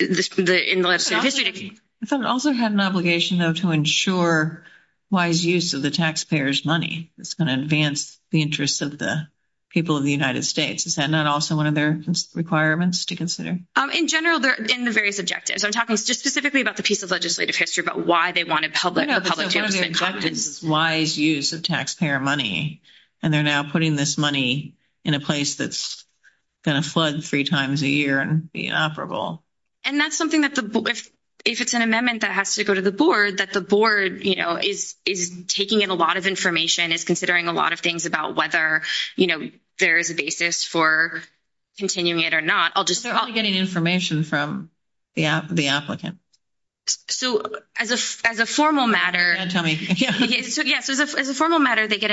in the legislative history... Does it also have an obligation, though, to ensure wise use of the taxpayers' money? It's going to advance the interests of the people of the United States. Is that not also one of their requirements to consider? In general, they're in the various objectives. I'm talking just specifically about the piece of legislative history about why they wanted wise use of taxpayer money. And they're now putting this money in a place that's going to flood three times a year and be inoperable. And that's something that if it's an amendment that has to go to the board, that the board, you know, is taking in a lot of information, is considering a lot of things about whether, you know, there is a basis for continuing it or not. They're all getting information from the applicant. So, as a formal matter... Yeah, tell me. Yeah. So, as a formal matter, they get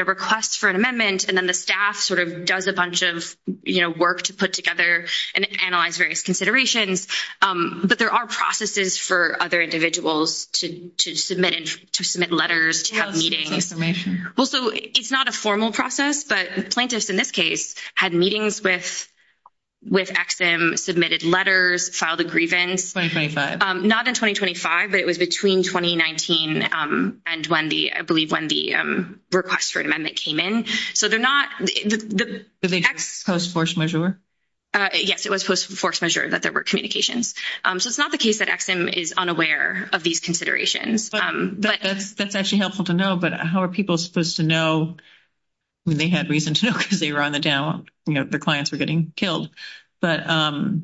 a request for an amendment, and then the staff sort of does a bunch of, you know, work to put together and analyze various considerations. But there are processes for other individuals to submit letters, to have meetings. Also, it's not a formal process, but plaintiffs in this case had meetings with EXIM, submitted letters, filed a grievance. Not in 2025, but it was between 2019 and when the, I believe, when the request for an amendment came in. So, they're not... Was it post-force measure? Yes, it was post-force measure that there were communications. So, it's not the case that EXIM is unaware of these considerations. That's actually helpful to know, but how are people supposed to know when they had reason to know because they were on the down, you know, their clients were getting killed? But how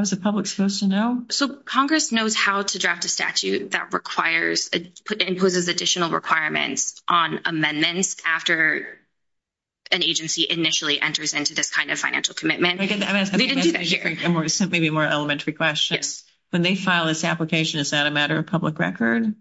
is the public supposed to know? So, Congress knows how to draft a statute that requires, that imposes additional requirements on amendments after an agency initially enters into this kind of financial commitment. Maybe a more elementary question. Yes. When they file this application, is that a matter of public record?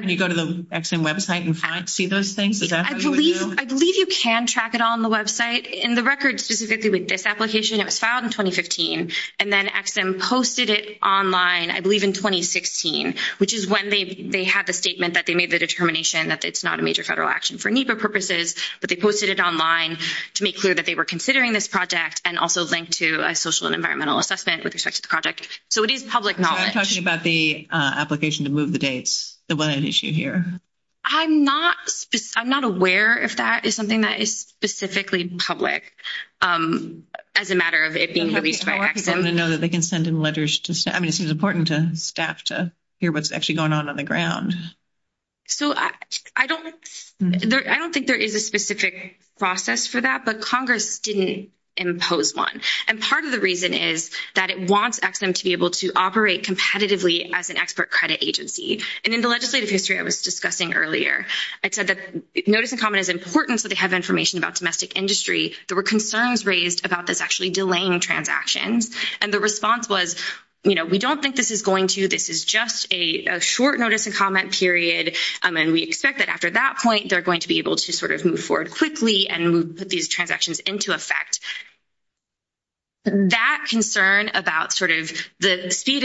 Do you go to the EXIM website and see those things? I believe you can track it on the website. In the record specifically with this application, it was filed in 2015, and then EXIM posted it online, I believe, in 2016, which is when they had the statement that they made the determination that it's not a major federal action for NEPA purposes, but they posted it online to make clear that they were considering this project and also linked to a social and environmental assessment with respect to the project. So, it is public knowledge. I'm talking about the application to move the dates. So, what is the issue here? I'm not aware if that is something that is specifically public as a matter of it being published by EXIM. I want people to know that they can send in letters to staff. I mean, this is important to staff to hear what's actually going on on the ground. So, I don't think there is a specific process for that, but Congress didn't impose one. And part of the reason is that it wants EXIM to be able to operate competitively as an expert credit agency. And in the legislative history I was discussing earlier, I said that notice and comment is important so they have information about domestic industry. There were concerns raised about this actually delaying transactions. And the response was, you know, we don't think this is going to. This is just a short notice and comment period. And we expect that after that point, they're going to be able to sort of move forward quickly and put these transactions into effect. That concern about sort of the speed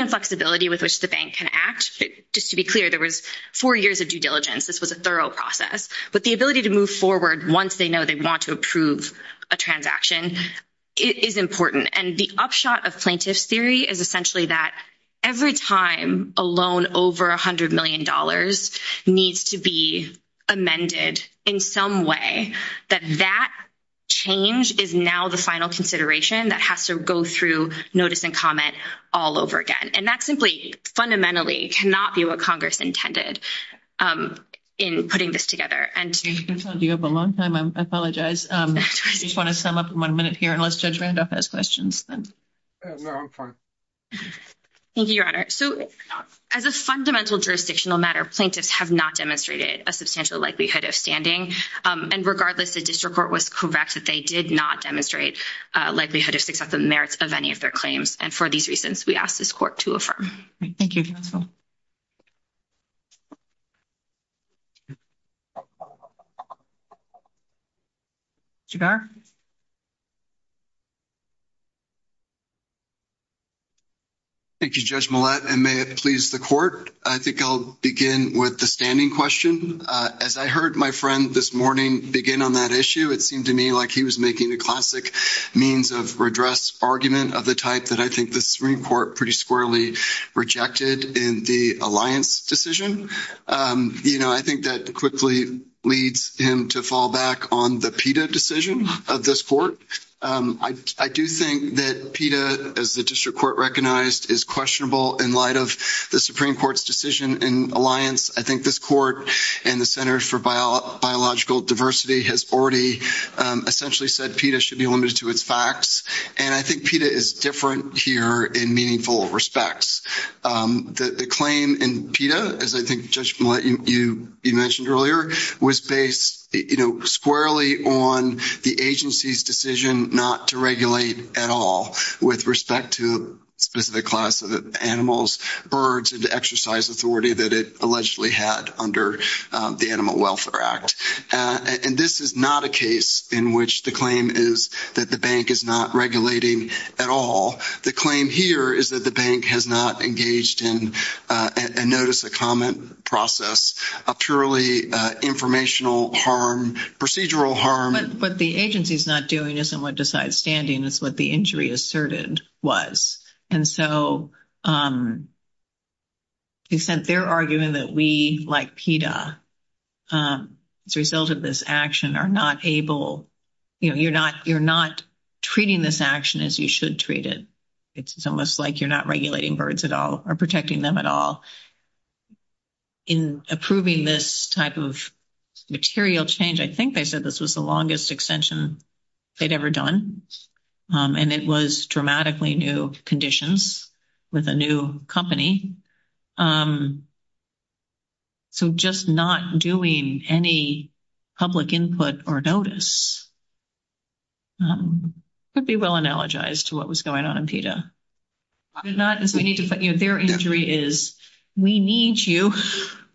and flexibility with which the bank can act, just to be clear, there was four years of due diligence. This was a thorough process. But the ability to move forward once they know they want to approve a transaction is important. And the upshot of plaintiff's theory is essentially that every time a loan over $100 million needs to be amended in some way, that that change is now the final consideration that has to go through notice and comment all over again. And that simply fundamentally cannot be what Congress intended in putting this together. And... I'm sorry. You have a long time. I apologize. I just want to sum up in one minute here unless Judge Randolph has questions. No, I'm fine. Thank you, Your Honor. So, as a fundamental jurisdictional matter, plaintiffs have not demonstrated a substantial likelihood of standing. And regardless, the district court was correct that they did not demonstrate a likelihood of success of merit of any of their claims. And for these reasons, we ask this court to affirm. Thank you. Jigar? Thank you, Judge Millett, and may it please the court. I think I'll begin with the standing question. As I heard my friend this morning begin on that issue, it seemed to me like he was making a classic means of redress argument of the type that I think the Supreme Court pretty squarely rejected in the Alliance decision. You know, I think that quickly leads him to fall back on the PETA decision of this court. I do think that PETA, as the district court recognized, is questionable in light of the Supreme Court's decision in Alliance. I think this court and the Center for Biological Diversity has already essentially said PETA should be limited to its facts. And I think PETA is different here in meaningful respects. The claim in PETA, as I think Judge Millett, you mentioned earlier, was based, you know, squarely on the agency's decision not to regulate at all with respect to specific class of animals, birds, and the exercise authority that it allegedly had under the Animal Welfare Act. And this is not a case in which the claim is that the bank is not regulating at all. The claim here is that the bank has not engaged in, and notice the comment process, a purely informational harm, procedural harm. But what the agency's not doing isn't what decides standing. It's what the injury asserted was. And so, to the extent they're arguing that we, like PETA, as a result of this action, are not able, you know, you're not treating this action as you should treat it. It's almost like you're not regulating birds at all or protecting them at all. In approving this type of material change, I think they said this was the longest extension they'd ever done. And it was dramatically new conditions with a new company. So, just not doing any public input or notice would be well analogized to what was going on in PETA. Their injury is, we need you,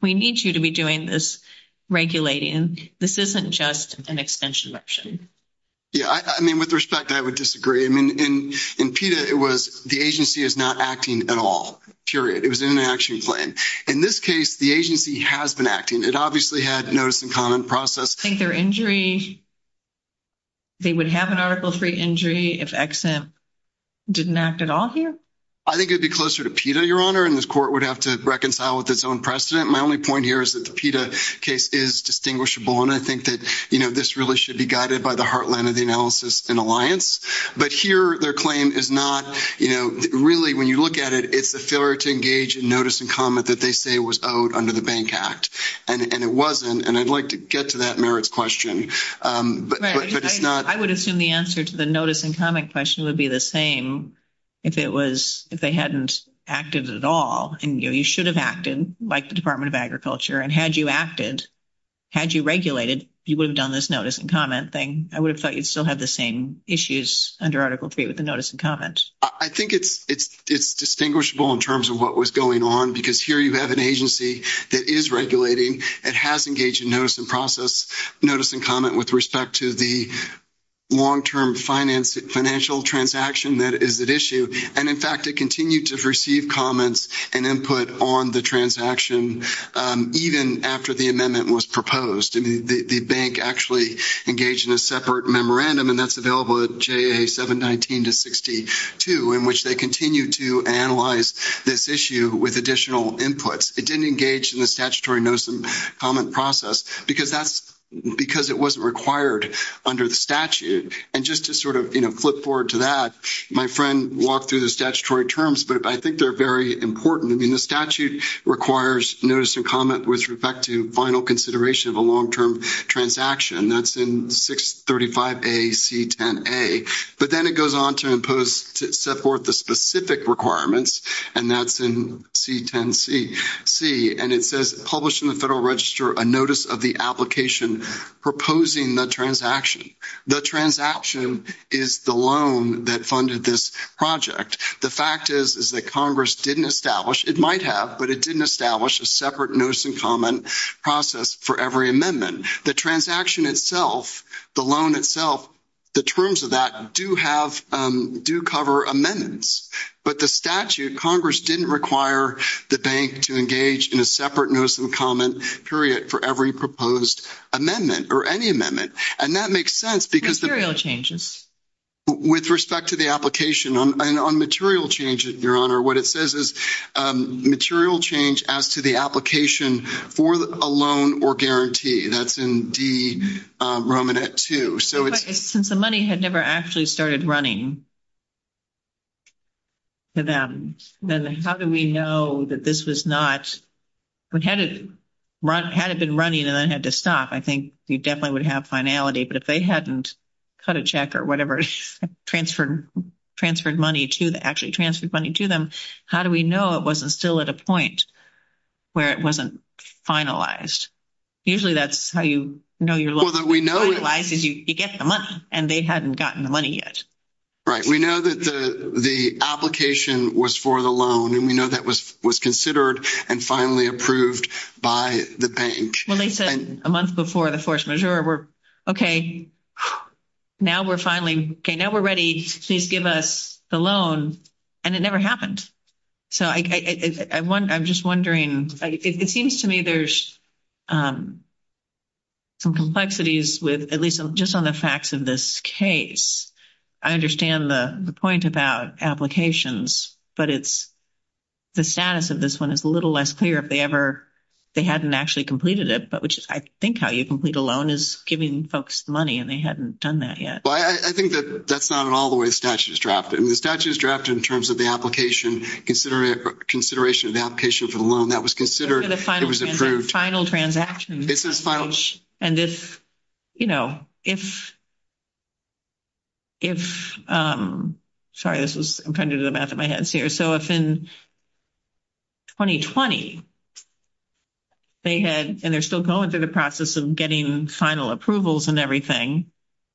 we need you to be doing this regulating. This isn't just an extension action. Yeah, I mean, with respect, I would disagree. I mean, in PETA, it was the agency is not acting at all, period. It was in an action plan. In this case, the agency has been acting. It obviously had notice and comment process. I think their injury, they would have an article three injury if EXIM didn't act at all here. I think it would be closer to PETA, Your Honor, and this court would have to reconcile with its own precedent. My only point here is that the PETA case is distinguishable, and I think that, you know, this really should be guided by the heartland of the analysis and alliance. But here, their claim is not, you know, really, when you look at it, it's the failure to engage in notice and comment that they say was owed under the Bank Act. And it wasn't, and I'd like to get to that merits question, but it's not. I would assume the answer to the notice and comment question would be the same if it was, if they hadn't acted at all. And, you know, you should have acted, like the Department of Agriculture. And had you acted, had you regulated, you would have done this notice and comment thing. I would have thought you'd still have the same issues under article three with the notice and comment. I think it's distinguishable in terms of what was going on, because here you have an agency that is regulating and has engaged in notice and process, notice and comment with respect to the long-term financial transaction that is at issue. And, in fact, it continued to receive comments and input on the transaction, even after the amendment was proposed. I mean, the bank actually engaged in a separate memorandum, and that's available at JA 719-62, in which they continue to analyze this issue with additional input. It didn't engage in the statutory notice and comment process, because it wasn't required under the statute. And just to sort of, you know, flip forward to that, my friend walked through the statutory terms, but I think they're very important. I mean, the statute requires notice and comment with respect to final consideration of a long-term transaction. That's in 635-A-C-10-A. But then it goes on to set forth the specific requirements, and that's in C-10-C. And it says, publish in the Federal Register a notice of the application proposing the transaction. The transaction is the loan that funded this project. The fact is, is that Congress didn't establish, it might have, but it didn't establish a separate notice and comment process for every amendment. The transaction itself, the loan itself, the terms of that do have, do cover amendments. But the statute, Congress didn't require the bank to engage in a separate notice and comment period for every proposed amendment or any amendment. And that makes sense because the- Material changes. With respect to the application, on material changes, Your Honor, what it says is material change as to the application for a loan or guarantee. That's in D-Romanet-2. But since the money had never actually started running to them, then how do we know that this was not-had it been running and then it had to stop, I think we definitely would have finality. But if they hadn't cut a check or whatever, transferred money to them, actually transferred money to them, how do we know it wasn't still at a point where it wasn't finalized? Usually that's how you know you're- Well, we know- You get the money, and they hadn't gotten the money yet. Right. We know that the application was for the loan, and we know that was considered and finally approved by the bank. Well, they said a month before the force majeure. We're, okay, now we're finally-okay, now we're ready. Please give us the loan, and it never happened. So I'm just wondering. It seems to me there's some complexities with, at least just on the facts of this case. I understand the point about applications, but it's-the status of this one is a little less clear if they ever-they hadn't actually completed it, which I think how you complete a loan is giving folks money, and they hadn't done that yet. I think that's not at all the way the statute is drafted. The statute is drafted in terms of the application, consideration of the application for the loan. That was considered- Final transaction. It's a final- And this, you know, if-if-sorry, this is-I'm trying to do the math in my head here. So if in 2020 they had-and they're still going through the process of getting final approvals and everything,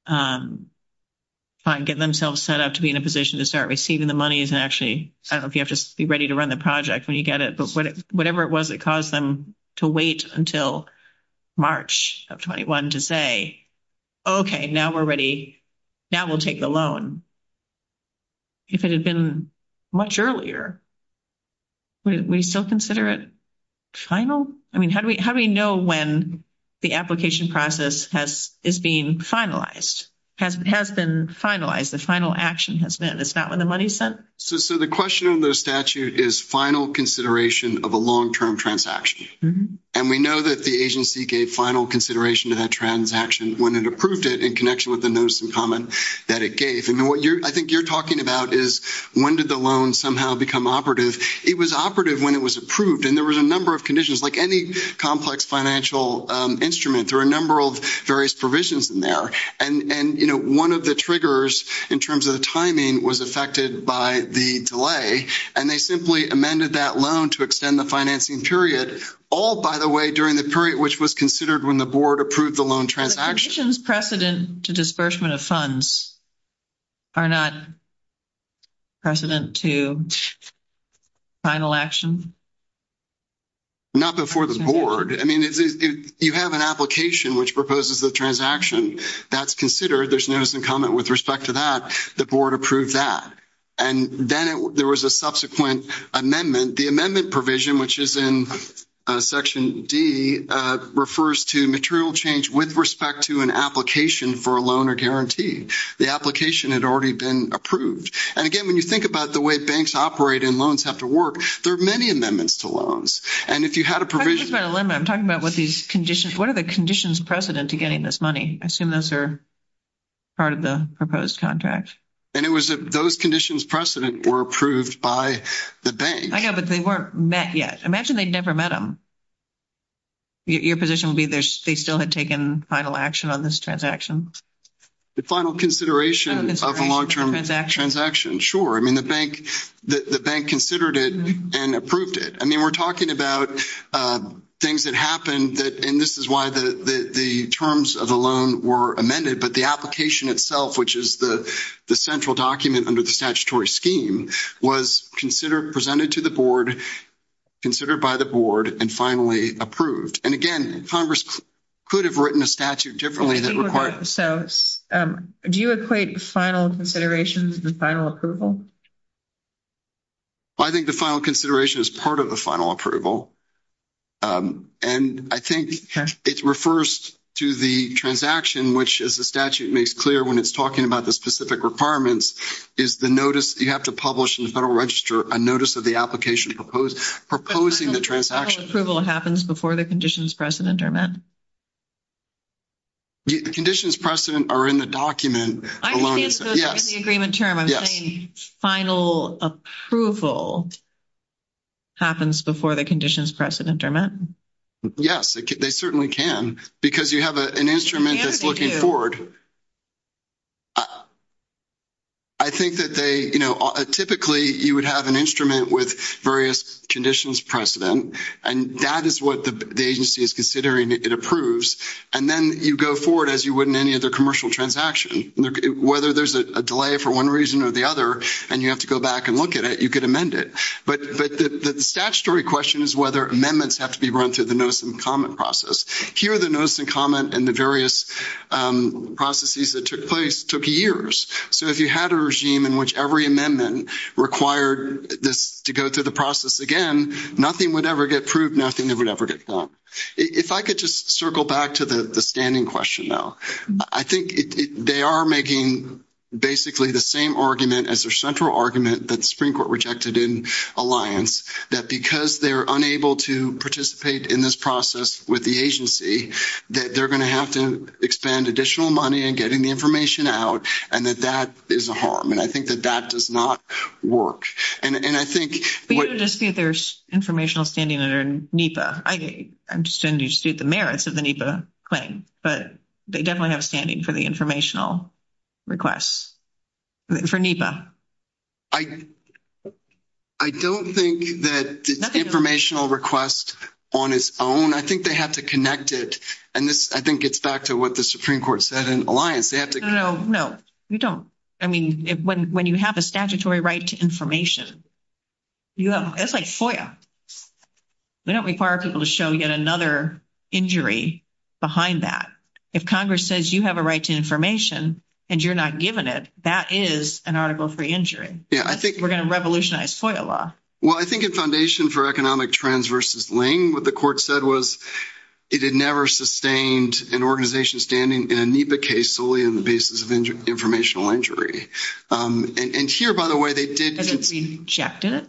get themselves set up to be in a position to start receiving the monies and actually-I don't know if you have to be ready to run the project when you get it, but whatever it was that caused them to wait until March of 21 to say, okay, now we're ready. Now we'll take the loan. If it had been much earlier, would we still consider it final? I mean, how do we-how do we know when the application process has-is being finalized, has been finalized, the final action has been? It's not when the money's sent? So the question of the statute is final consideration of a long-term transaction. And we know that the agency gave final consideration to that transaction when it approved it in connection with the notice in common that it gave. And what you're-I think you're talking about is when did the loan somehow become operative. It was operative when it was approved, and there was a number of conditions. Like any complex financial instrument, there are a number of various provisions in there. And, you know, one of the triggers in terms of timing was affected by the delay, and they simply amended that loan to extend the financing period, all, by the way, during the period which was considered when the board approved the loan transaction. The conditions precedent to disbursement of funds are not precedent to final action? Not before the board. I mean, you have an application which proposes a transaction. That's considered. There's notice and comment with respect to that. The board approved that. And then there was a subsequent amendment. The amendment provision, which is in Section D, refers to material change with respect to an application for a loan or guarantee. The application had already been approved. And, again, when you think about the way banks operate and loans have to work, there are many amendments to loans. And if you had a provision. I'm talking about with these conditions. What are the conditions precedent to getting this money? I assume those are part of the proposed contract. And it was those conditions precedent were approved by the bank. I know, but they weren't met yet. Imagine they'd never met them. Your position would be they still had taken final action on this transaction. The final consideration of a long-term transaction, sure. I mean, the bank considered it and approved it. I mean, we're talking about things that happened, and this is why the terms of the loan were amended. But the application itself, which is the central document under the statutory scheme, was presented to the board, considered by the board, and finally approved. And, again, Congress could have written a statute differently. Do you equate final considerations with final approval? I think the final consideration is part of the final approval. And I think it refers to the transaction, which, as the statute makes clear when it's talking about the specific requirements, is the notice you have to publish in the Federal Register, a notice of the application proposing the transaction. Approval happens before the conditions precedent are met? The conditions precedent are in the document. I understand those are in the agreement term. I'm saying final approval happens before the conditions precedent are met? Yes, they certainly can. Because you have an instrument that's looking forward. I think that they, you know, typically you would have an instrument with various conditions precedent, and that is what the agency is considering it approves. And then you go forward as you would in any other commercial transaction. Whether there's a delay for one reason or the other, and you have to go back and look at it, you could amend it. But the statutory question is whether amendments have to be run through the notice and comment process. Here the notice and comment and the various processes that took place took years. So if you had a regime in which every amendment required this to go through the process again, nothing would ever get approved, nothing would ever get done. If I could just circle back to the standing question, though. I think they are making basically the same argument as their central argument that the Supreme Court rejected in Alliance, that because they're unable to participate in this process with the agency, that they're going to have to expend additional money in getting the information out, and that that is a harm. And I think that that does not work. And I think what — But you would just say there's informational standing under NEPA. I'm just going to state the merits of the NEPA claim. But they definitely have standing for the informational requests for NEPA. I don't think that informational requests on its own. I think they have to connect it. And I think it's back to what the Supreme Court said in Alliance. No, no, no. We don't. I mean, when you have a statutory right to information, that's like FOIA. We don't require people to show yet another injury behind that. If Congress says you have a right to information and you're not given it, that is an article of free injury. We're going to revolutionize FOIA law. Well, I think in Foundation for Economic Trends v. Ling, what the court said was it had never sustained an organization standing in a NEPA case solely on the basis of informational injury. And here, by the way, they did — They didn't reject it?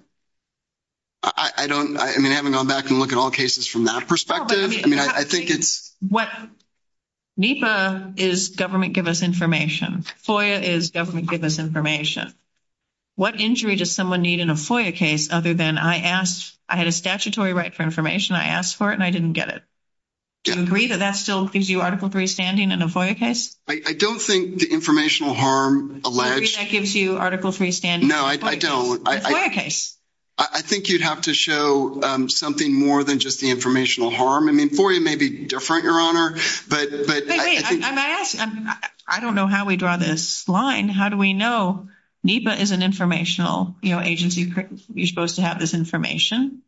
I don't — I mean, I haven't gone back and looked at all cases from that perspective. I mean, I think it's — What — NEPA is government give us information. FOIA is government give us information. What injury does someone need in a FOIA case other than I asked — I had a statutory right for information, I asked for it, and I didn't get it? Do you agree that that still gives you Article III standing in a FOIA case? I don't think the informational harm alleged — Do you agree that gives you Article III standing? No, I don't. In a FOIA case? I think you'd have to show something more than just the informational harm. I mean, FOIA may be different, Your Honor, but — Wait, wait. I don't know how we draw this line. How do we know? NEPA is an informational agency. You're supposed to have this information.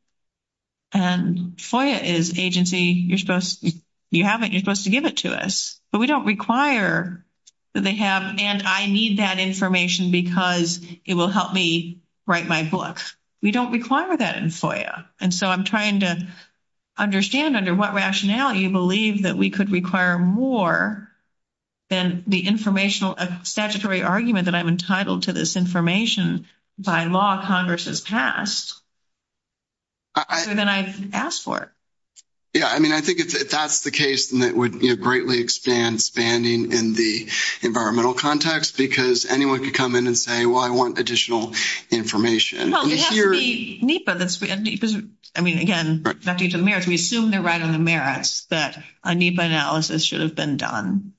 And FOIA is agency. You're supposed — you have it. You're supposed to give it to us. But we don't require that they have, and I need that information because it will help me write my book. We don't require that in FOIA. And so I'm trying to understand under what rationality you believe that we could require more than the informational statutory argument that I'm entitled to this information by law Congress has passed, other than I asked for it. Yeah, I mean, I think if that's the case, then it would greatly expand standing in the environmental context because anyone could come in and say, well, I want additional information. Well, it has to be NEPA that's — I mean, again, nothing to do with merits. We assume they're right on the merits that a NEPA analysis should have been done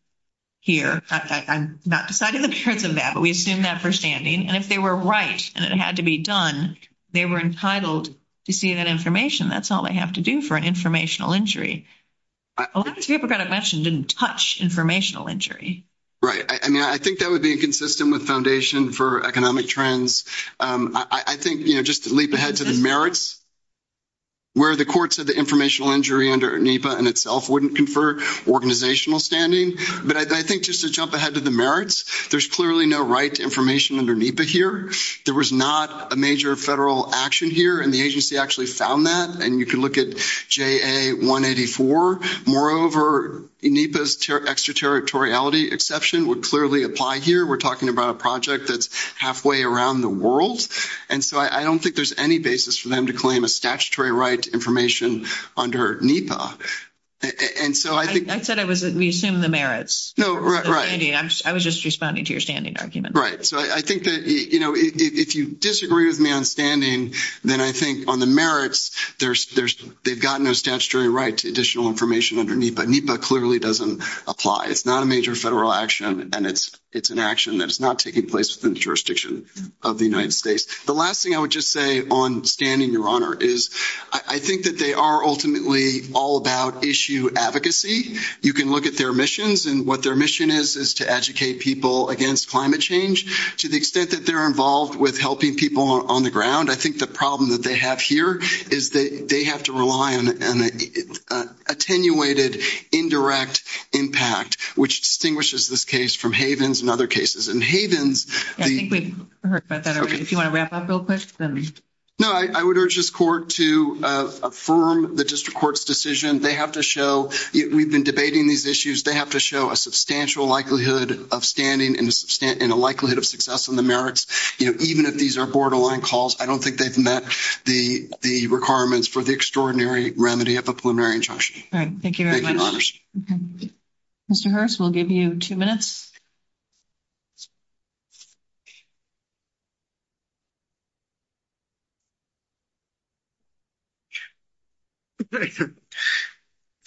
here. I'm not decided in terms of that, but we assume that for standing. And if they were right and it had to be done, they were entitled to see that information. That's all they have to do for an informational injury. A lot of people got a question, didn't touch informational injury. Right. I mean, I think that would be consistent with foundation for economic trends. I think, you know, just to leap ahead to the merits, where the courts of the informational injury under NEPA in itself wouldn't confer organizational standing, but I think just to jump ahead to the merits, there's clearly no right to information under NEPA here. There was not a major federal action here, and the agency actually found that. And you can look at JA-184. Moreover, NEPA's extraterritoriality exception would clearly apply here. We're talking about a project that's halfway around the world. And so I don't think there's any basis for them to claim a statutory right to information under NEPA. And so I think — I said we assume the merits. No, right. I was just responding to your standing argument. Right. So I think that, you know, if you disagree with me on standing, then I think on the merits, they've got no statutory right to additional information under NEPA. NEPA clearly doesn't apply. It's not a major federal action, and it's an action that's not taking place within the jurisdiction of the United States. The last thing I would just say on standing, Your Honor, is I think that they are ultimately all about issue advocacy. You can look at their missions, and what their mission is is to educate people against climate change. To the extent that they're involved with helping people on the ground, I think the problem that they have here is that they have to rely on an attenuated, indirect impact, which distinguishes this case from Havens and other cases. And Havens — I think we've heard about that already. If you want to wrap up real quick, then — No, I would urge this court to affirm the district court's decision. They have to show — we've been debating these issues. They have to show a substantial likelihood of standing and a likelihood of success on the merits. You know, even if these are borderline calls, I don't think they've met the requirements for the extraordinary remedy of a preliminary injunction. All right. Thank you very much. Thank you, Your Honor. Mr. Hurst, we'll give you two minutes.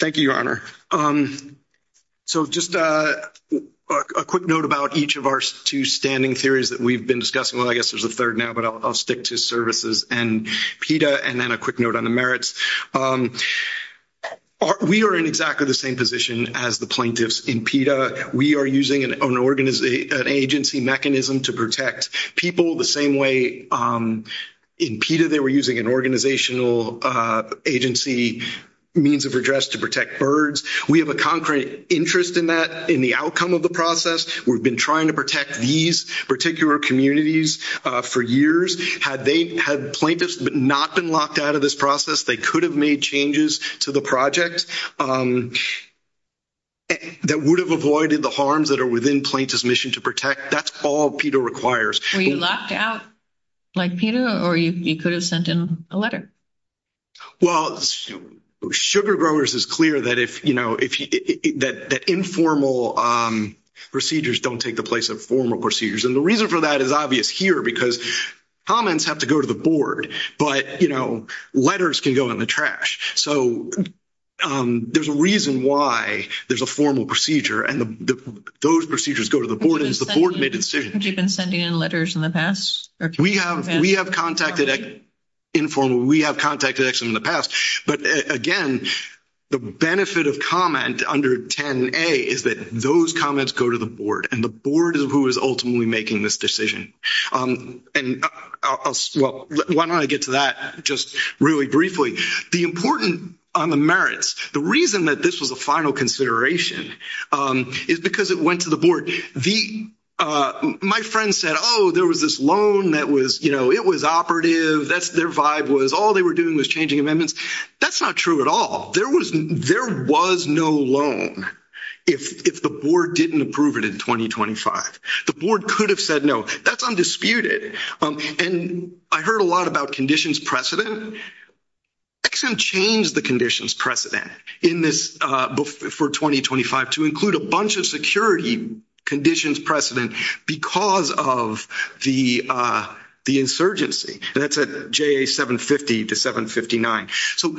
Thank you, Your Honor. So just a quick note about each of our two standing theories that we've been discussing. Well, I guess there's a third now, but I'll stick to services and PETA, and then a quick note on the merits. We are in exactly the same position as the plaintiffs in PETA. We are using an agency mechanism to protect people the same way. In PETA, they were using an organizational agency means of address to protect birds. We have a concrete interest in that, in the outcome of the process. We've been trying to protect these particular communities for years. Had they — had plaintiffs not been locked out of this process, they could have made changes to the project that would have avoided the harms that are within plaintiffs' mission to protect. That's all PETA requires. Were you locked out like PETA, or you could have sent in a letter? Well, Sugar Growers is clear that informal procedures don't take the place of formal procedures. And the reason for that is obvious here, because comments have to go to the board, but, you know, letters can go in the trash. So there's a reason why there's a formal procedure, and those procedures go to the board. Have you been sending in letters in the past? We have contacted informal — we have contacted them in the past. But, again, the benefit of comment under 10a is that those comments go to the board, and the board is who is ultimately making this decision. And I'll — well, why don't I get to that just really briefly. The important — on the merits, the reason that this was a final consideration is because it went to the board. My friend said, oh, there was this loan that was, you know, it was operative. Their vibe was all they were doing was changing amendments. That's not true at all. There was no loan if the board didn't approve it in 2025. The board could have said no. That's undisputed. And I heard a lot about conditions precedent. Ex-Im changed the conditions precedent in this — for 2025 to include a bunch of security conditions precedent because of the insurgency. And that's at JA-750 to 759. So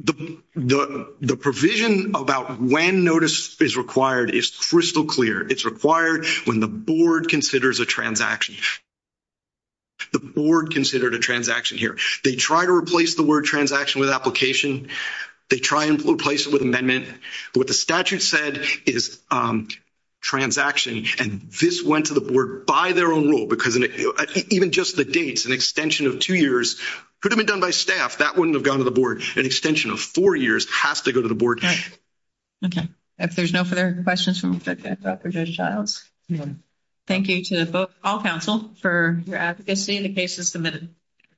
the provision about when notice is required is crystal clear. It's required when the board considers a transaction. The board considered a transaction here. They tried to replace the word transaction with application. They tried to replace it with amendment. What the statute said is transaction. And this went to the board by their own rule because even just the dates, an extension of two years could have been done by staff. That wouldn't have gone to the board. An extension of four years has to go to the board. Okay. If there's no further questions, we'll take that back for Judge Childs. Thank you to all counsel for your advocacy. The case is submitted.